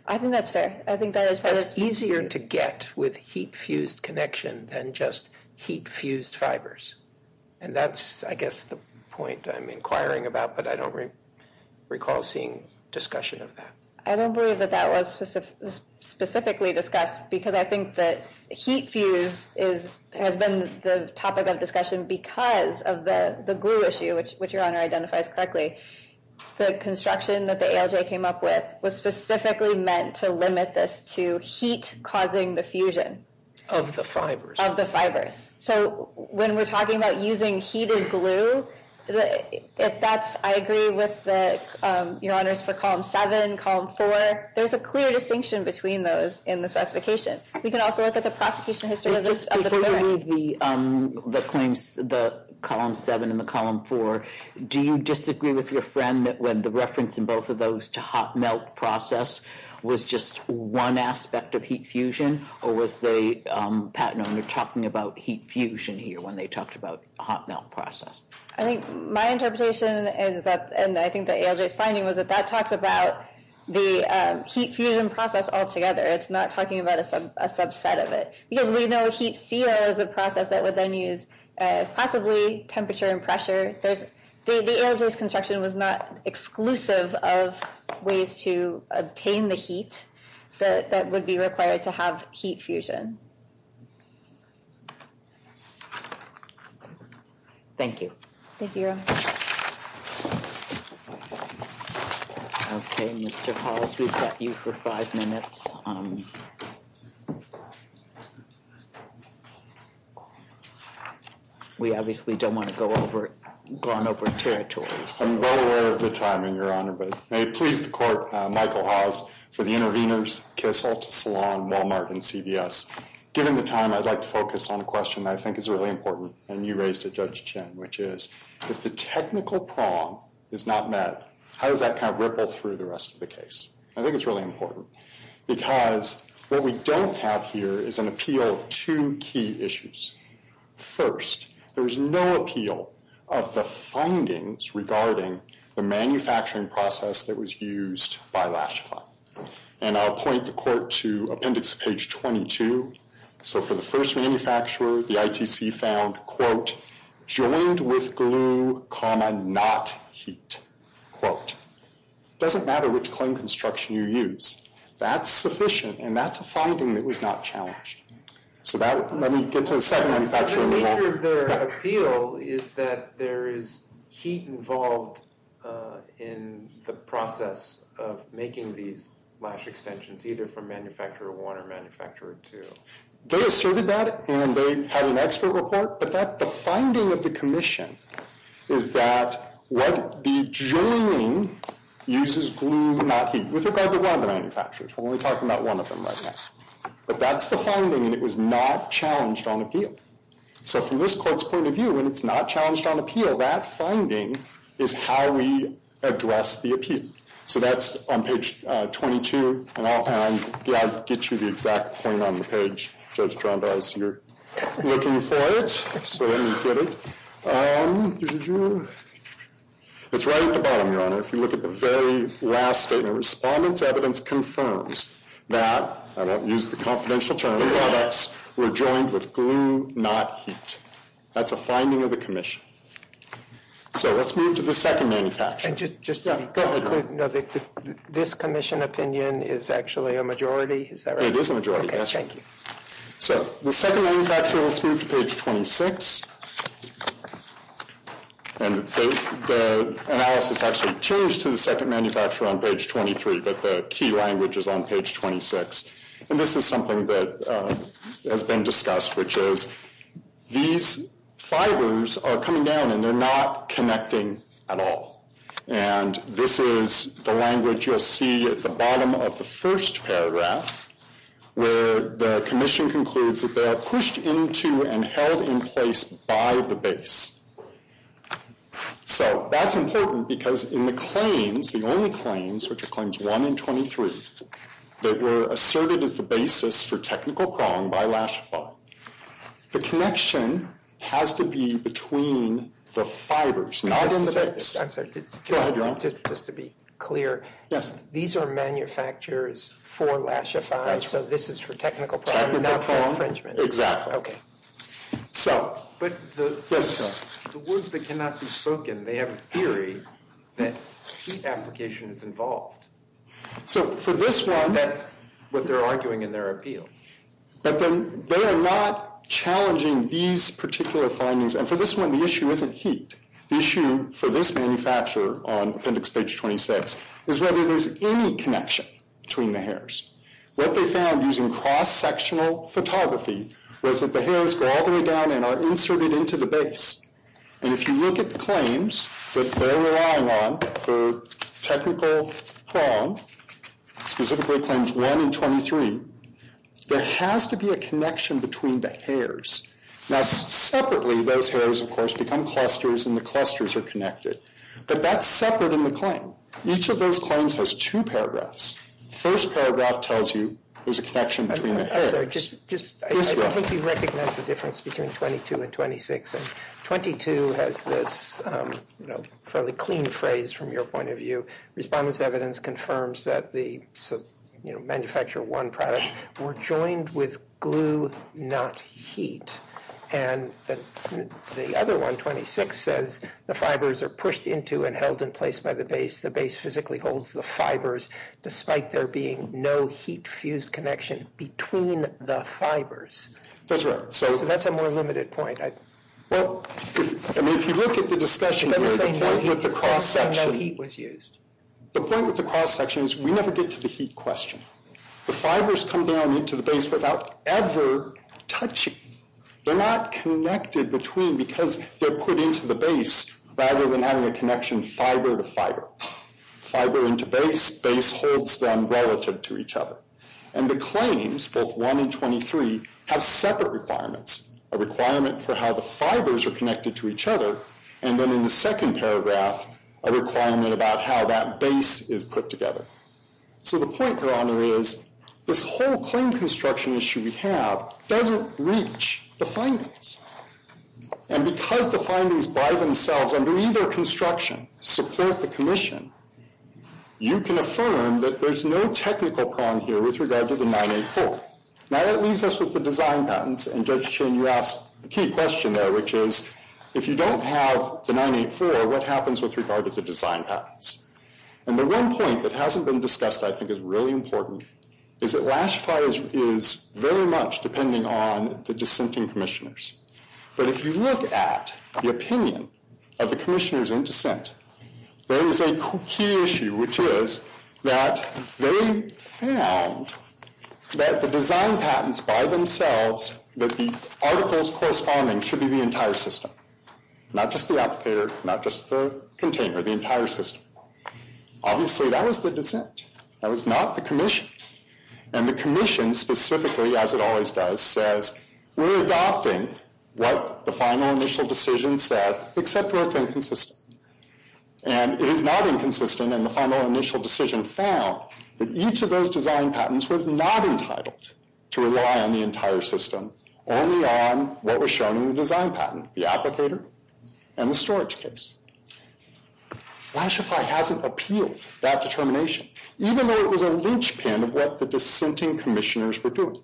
I think that's fair. I think that is probably easier to get with heat fused connection than just heat fused fibers. And that's, I guess, the point I'm inquiring about, but I don't recall seeing discussion of that. I don't believe that that was specifically discussed because I think that heat fuse is, has been the top of that discussion because of the glue issue, which your honor identifies correctly. The construction that the ALJ came up with was specifically meant to limit this to heat causing the fusion. Of the fibers. Of the fibers. So when we're talking about using heated glue, if that's, I agree with your honors for column 7, column 4, there's a clear distinction between those in the specification. We can also look at the prosecution history of this. Before you read the claims, the column 7 and the column 4, do you disagree with your friend that when the reference in both of those to hot melt process was just one aspect of heat fusion, or was the patent owner talking about heat fusion here when they talked about hot melt process? I think my interpretation is that, and I think the ALJ finding was that that talks about the heat fusion process altogether. It's not talking about a subset of it. We know heat seal is a process that would then use possibly temperature and pressure. The ALJ's construction was not exclusive of ways to obtain the heat that would be required to have heat fusion. Thank you. Thank you. Okay, Mr. Hall, we've got you for five minutes. We obviously don't want to go on over territory. I'm well aware of the timing, your honor, but may it please the court, Michael Hobbs for the interveners, Kissel, Salon, Walmart, and CVS. Given the time, I'd like to focus on a question I think is really important. And you raised it, Judge Chin, which is if the technical prong is not met, how does that kind of ripple through the rest of the case? I think it's really important because what we don't have here is an appeal to key issues. First, there's no appeal of the findings regarding the manufacturing process that was used by Lashcon. And I'll point the court to appendix page 22. So for the first manufacturer, the ITC found quote joined with glue comma, not heat quote. It doesn't matter which construction you use. That's sufficient. And that's a finding that was not challenged. So that let me get to the second one. The appeal is that there is heat involved in the process of making these lash extensions, either from manufacturer one or manufacturer two. They asserted that, and they had an expert report, but that's the finding of the commission is that what the joining uses glue, not heat, with regard to one of the manufacturers. And we're talking about one of them right now, but that's the finding is not challenged on appeal. So from this court's point of view, when it's not challenged on appeal, that finding is how we address the appeal. So that's on page 22. And I'll get you the exact thing on the page. So you're looking for it. It's right at the bottom, your honor. If you look at the very last statement, respondents evidence confirms that I don't use the confidential term. We're joined with glue, not heat. That's a finding of the commission. So let's move to the second manufacturer. This commission opinion is actually a majority. So the second manufacturer is page 26. And the analysis actually changed to the second manufacturer on page 23, but the key language is on page 26. And this is something that has been discussed, which is these fibers are coming down and they're not connecting at all. And this is the language you'll see at the bottom of the first paragraph where the commission concludes that they are pushed into and held in place by the base. So that's important because in the claims, the only claims, which are claims one and 23, that were asserted as the basis for technical problem by last fall, the connection has to be between the fibers. I'm sorry, just to be clear. These are manufacturers for lashify. So this is for technical problems. Exactly. So, but the words that cannot be spoken, they have a theory that application is involved. So for this one, but they're arguing in their appeal, but then they are not challenging these particular findings. And for this one, the issue isn't heat. The issue for this manufacturer on appendix page 26 is whether there's any connection between the hairs. What they found using cross-sectional photography was that the hairs go all the way down and are inserted into the base. And if you look at the claims that they're relying on for technical problem, specifically claims one and 23, there has to be a connection between the hairs. Now separately, those hairs of course become clusters and the clusters are connected, but that's separate in the claim. Each of those claims has two paragraphs. First paragraph tells you there's a connection between the hairs. I hope you recognize the difference between 22 and 26. 22 has this fairly clean phrase from your point of view. Respondents evidence confirms that the manufacturer one product were joined with glue, not heat. And the other one, 26 says, the fibers are pushed into and held in place by the base. The base physically holds the fibers, despite there being no heat fused connection between the fibers. That's right. So that's a more limited point. Well, I mean, if you look at the discussion, the point with the cross sections, we never get to the heat question. The fibers come down into the base without ever touching. They're not connected between because they're put into the base rather than having a connection fiber to fiber, fiber into base, base holds them relative to each other. And the claims both one and 23 have separate requirements, a requirement for how the fibers are connected to each other. And then in the second paragraph, a requirement about how that base is put together. So the point here on there is this whole claim construction issue we have doesn't reach the findings. And because the findings by themselves, I believe their construction support the commission. You can affirm that there's no technical problem here with regard to the mining. Now that leaves us with the design patents and you asked the key question there, which is if you don't have the money for what happens with regard to the design patents. And the one point that hasn't been discussed, I think is really important is that last is very much depending on the dissenting commissioners. But if you look at the opinion of the commissioners in dissent, there is a key issue, which is that they found that the design patents by themselves, that the articles corresponding should be the entire system, not just the occupier, not just the container, the entire system. Obviously that was the dissent. That was not the commission. And the commission specifically, as it always does, says, we're adopting what the final initial decision said, except for it's inconsistent. And it is not inconsistent. And the final initial decision found that each of those design patents was not entitled to rely on the entire system only on what was shown in the design patent, the applicator and the storage case. Why should I have an appeal that determination, even though it was a linchpin of what the dissenting commissioners were doing,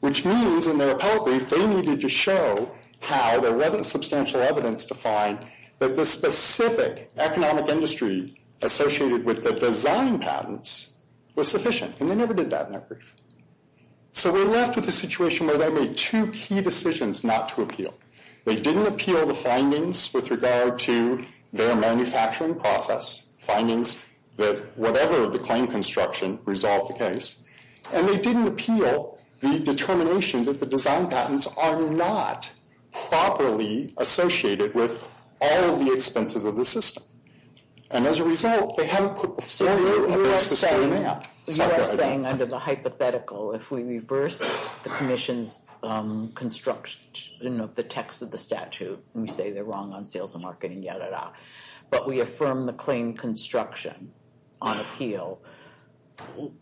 which means in their appellate brief, they needed to show how there wasn't substantial evidence to find that the specific economic industry associated with the design patents was sufficient and they never did that. So we're left with a situation where they made two key decisions not to appeal. They didn't appeal the findings with regard to their manufacturing process findings that whatever the claim construction resolved the case. And they didn't appeal the determination that the design patents are not properly associated with all of the expenses of the system. And as a result, they haven't put. Under the hypothetical, if we reverse the commission, construction of the text of the statute and say they're wrong on sales and marketing, yada, yada, but we affirm the claim construction on appeal.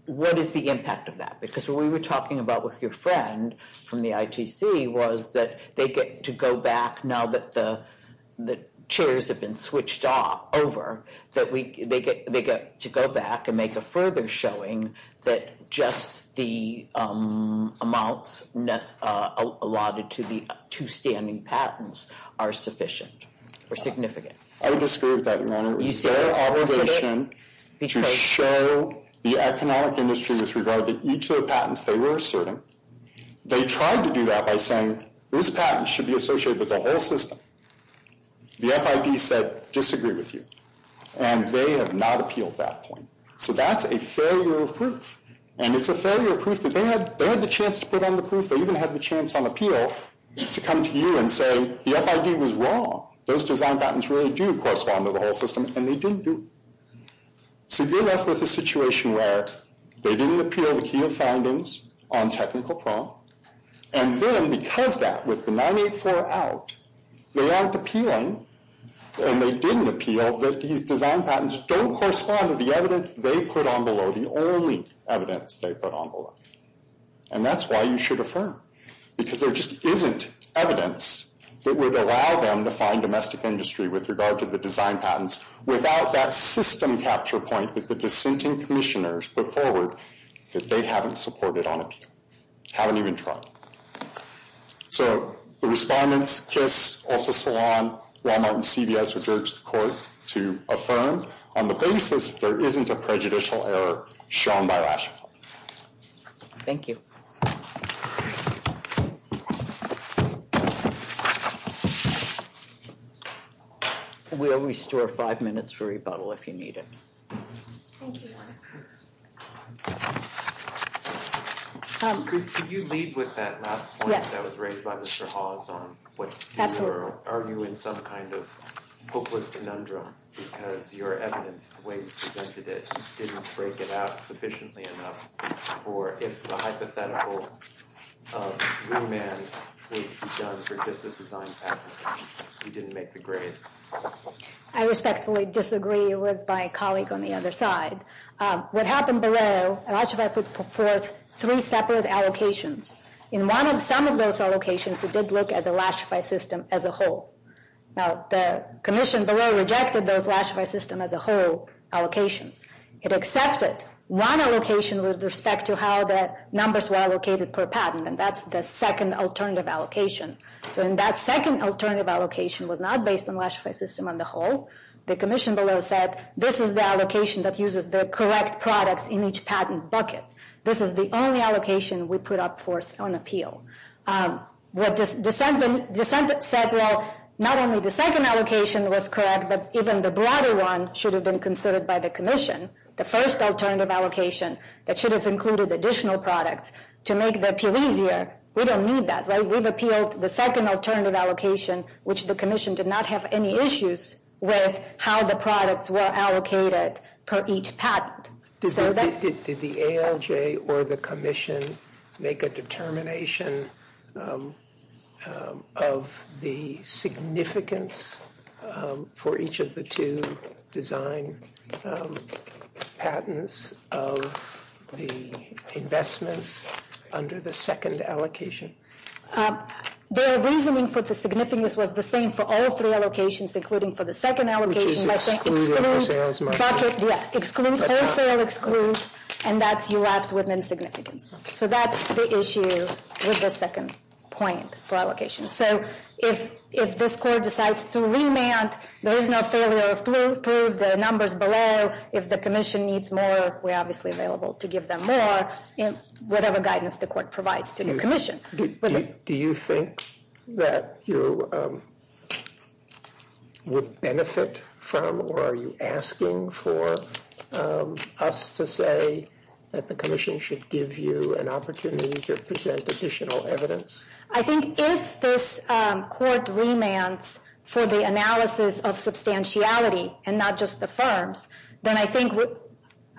What is the impact of that? Because we were talking about with your friend from the ITC was that they get to go back. Now that the, the chairs have been switched off over, that we, they get, they get to go back and make a further showing that just the amount allotted to the two standing patents are sufficient or I disagree with that. The economic industry is regarded each of the patents they were asserting. They tried to do that by saying this patent should be associated with the whole system. The FID said, disagree with you. And they have not appealed that point. So that's a failure. And it's a failure proof that they had, they had the chance to put on the proof. They even had the chance on appeal to come to you and say, the FID was wrong. Those design patents really do correspond to the whole system and they didn't do. So you're left with a situation where they didn't appeal the key of findings on technical problems. And then because that was the 984 out, they aren't appealing and they didn't appeal. The design patents don't correspond to the evidence they put on below the only evidence they put on board. And that's why you should affirm because there just isn't evidence that would allow them to find domestic industry with regard to the design patents without that system capture point that the dissenting commissioners put forward that they haven't supported on it. Haven't even tried. So the respondents, just also salon Walmart and CVS or Dirk's court to affirm on the basis. There isn't a prejudicial error shown by. Thank you. We always store five minutes for rebuttal. If you need it. Thank you. Could you lead with that? Yeah, that was raised by the show. Are you in some kind of hopeless conundrum because your evidence didn't break it out sufficiently enough or if the hypothetical you didn't make the grade. I respectfully disagree with my colleague on the other side. What happened below and I should I put three separate allocations in one of some of those allocations that didn't look at the last fight system as a whole. Now the commission rejected their flash for a system as a whole allocation. It accepts it. One allocation was respect to how the numbers were allocated per patent. And that's the second alternative allocation. So in that second alternative allocation was not based on my system on the whole, the commission below said, this is the allocation that uses the correct products in each patent bucket. This is the only allocation we put up for us on appeal. What does the sentence said? Well, not only the second allocation was crap, but even the broader one should have been considered by the commission. The first alternative allocation that should have included additional products to make the PV here. We don't need that. So I would appeal the second alternative allocation, which the commission did not have any issues with how the products were allocated per each patent. Did the ALJ or the commission make a determination of the significance for each of the two design patents of the investments under the second allocation The reasoning for the significance was the same for all three allocations, including for the second allocation. Excludes and that's, you ask women's significance. So that's the issue with the second point for allocation. So if, if this court decides to remand, there is no failure, prove the numbers below. If the commission needs more, we're obviously available to give them more in whatever guidance the court provides to the commission. Do you think that you would benefit from, or are you asking for us to say that the commission should give you an opportunity to present additional evidence? I think if this court remands for the analysis of substantiality and not just the firms, then I think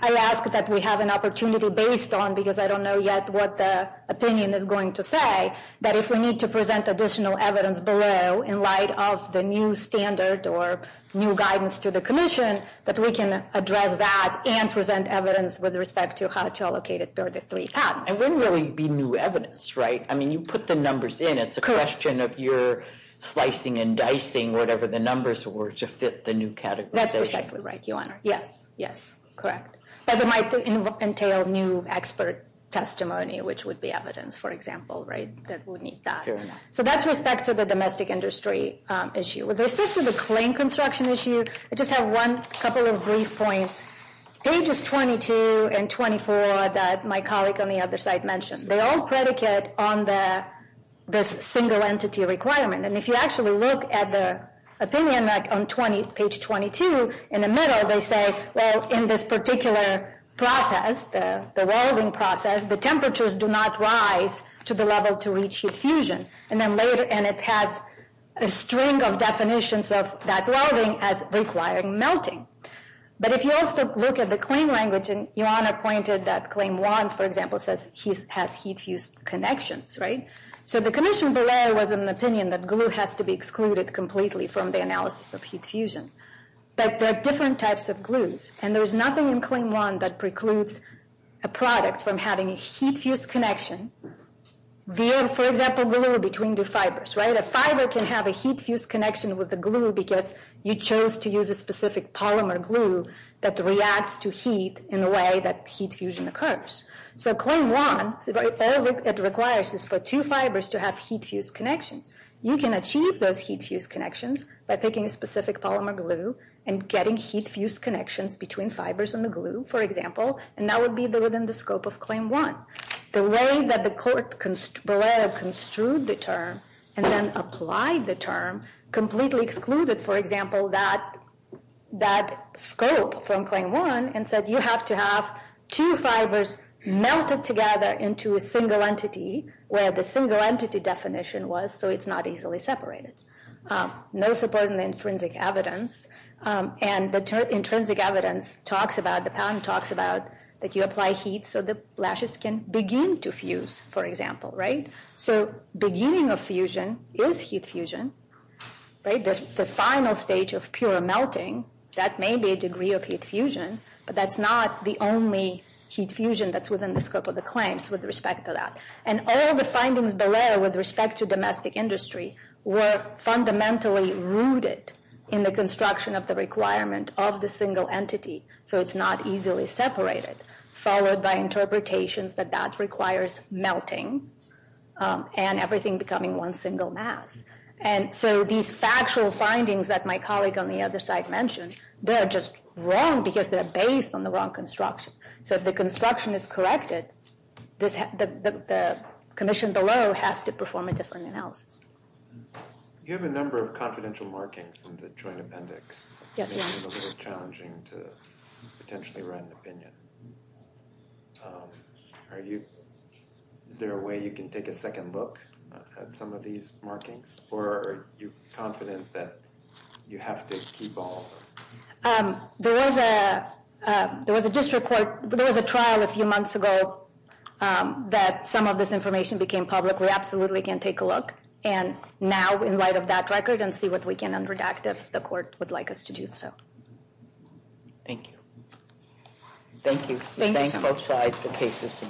I asked that we have an opportunity based on, because I don't know yet what the opinion is going to say, that if we need to present additional evidence below in light of the new standard or new guidance to the commission, that we can address that and present evidence with respect to how to allocate it. And wouldn't really be new evidence, right? I mean, you put the numbers in, it's a question of your slicing and dicing, whatever the numbers were to fit the new category. That's exactly right. Yes. Yes. Correct. As it might entail new expert testimony, which would be evidence for example, right? That would need that. So that's with respect to the domestic industry issue. With respect to the claim construction issue, I just have one couple of brief points, pages 22 and 24 that my colleagues on the other side mentioned, they all predicate on the single entity requirement. And if you actually look at the opinion, like on 20, page 22, in the middle, they say, well, in this particular process, the welding process, the temperatures do not rise to the level to reach heat fusion. And then later, and it has a string of definitions of that welding as requiring melting. But if you also look at the claim language, and Ioana pointed that claim one, for example, says he has heat fuse connections, right? So the condition below was an opinion that glue has to be excluded completely from the analysis of heat fusion, but there are different types of glues. And there's nothing in claim one that precludes a product from having a heat fuse connection. For example, glue between the fibers, right? A fiber can have a heat fuse connection with the glue because you chose to use a specific polymer glue that reacts to heat in the way that heat fusion occurs. So claim one, all it requires is for two fibers to have heat fuse connections. You can achieve those heat fuse connections by picking a specific polymer glue and getting heat fuse connections between fibers and the glue, for example, and that would be within the scope of claim one. The way that the court construed the term and then applied the term completely excluded, for example, that scope from claim one and said, you have to have two fibers melted together into a single entity where the single entity definition was, so it's not easily separated. No support in the intrinsic evidence. And the intrinsic evidence talks about, the patent talks about that you apply heat so the lashes can begin to fuse, for example, right? So beginning of fusion is heat fusion, right? The final stage of pure melting, that may be a degree of heat fusion, but that's not the only heat fusion that's within the scope of the claims with respect to that. And all the findings below with respect to domestic industry were fundamentally rooted in the construction of the requirement of the single entity. So it's not easily separated, followed by interpretations that that requires melting and everything becoming one single mass. And so these factual findings that my colleague on the other side mentioned, they're just wrong because they're based on the wrong construction. So if the construction is corrected, the commission below has to perform a different analysis. You have a number of confidential markings in the Joint Appendix. It's a little bit challenging to potentially run an opinion. Are you, is there a way you can take a second look at some of these markings? Or are you confident that you have to keep all of them? There was a, there was a district court, there was a trial a few months ago that some of this information became public. We absolutely can take a look. And now in light of that record and see what we can underdoctor, if the court would like us to do so. Thank you. Thank you. Thank you both sides for cases.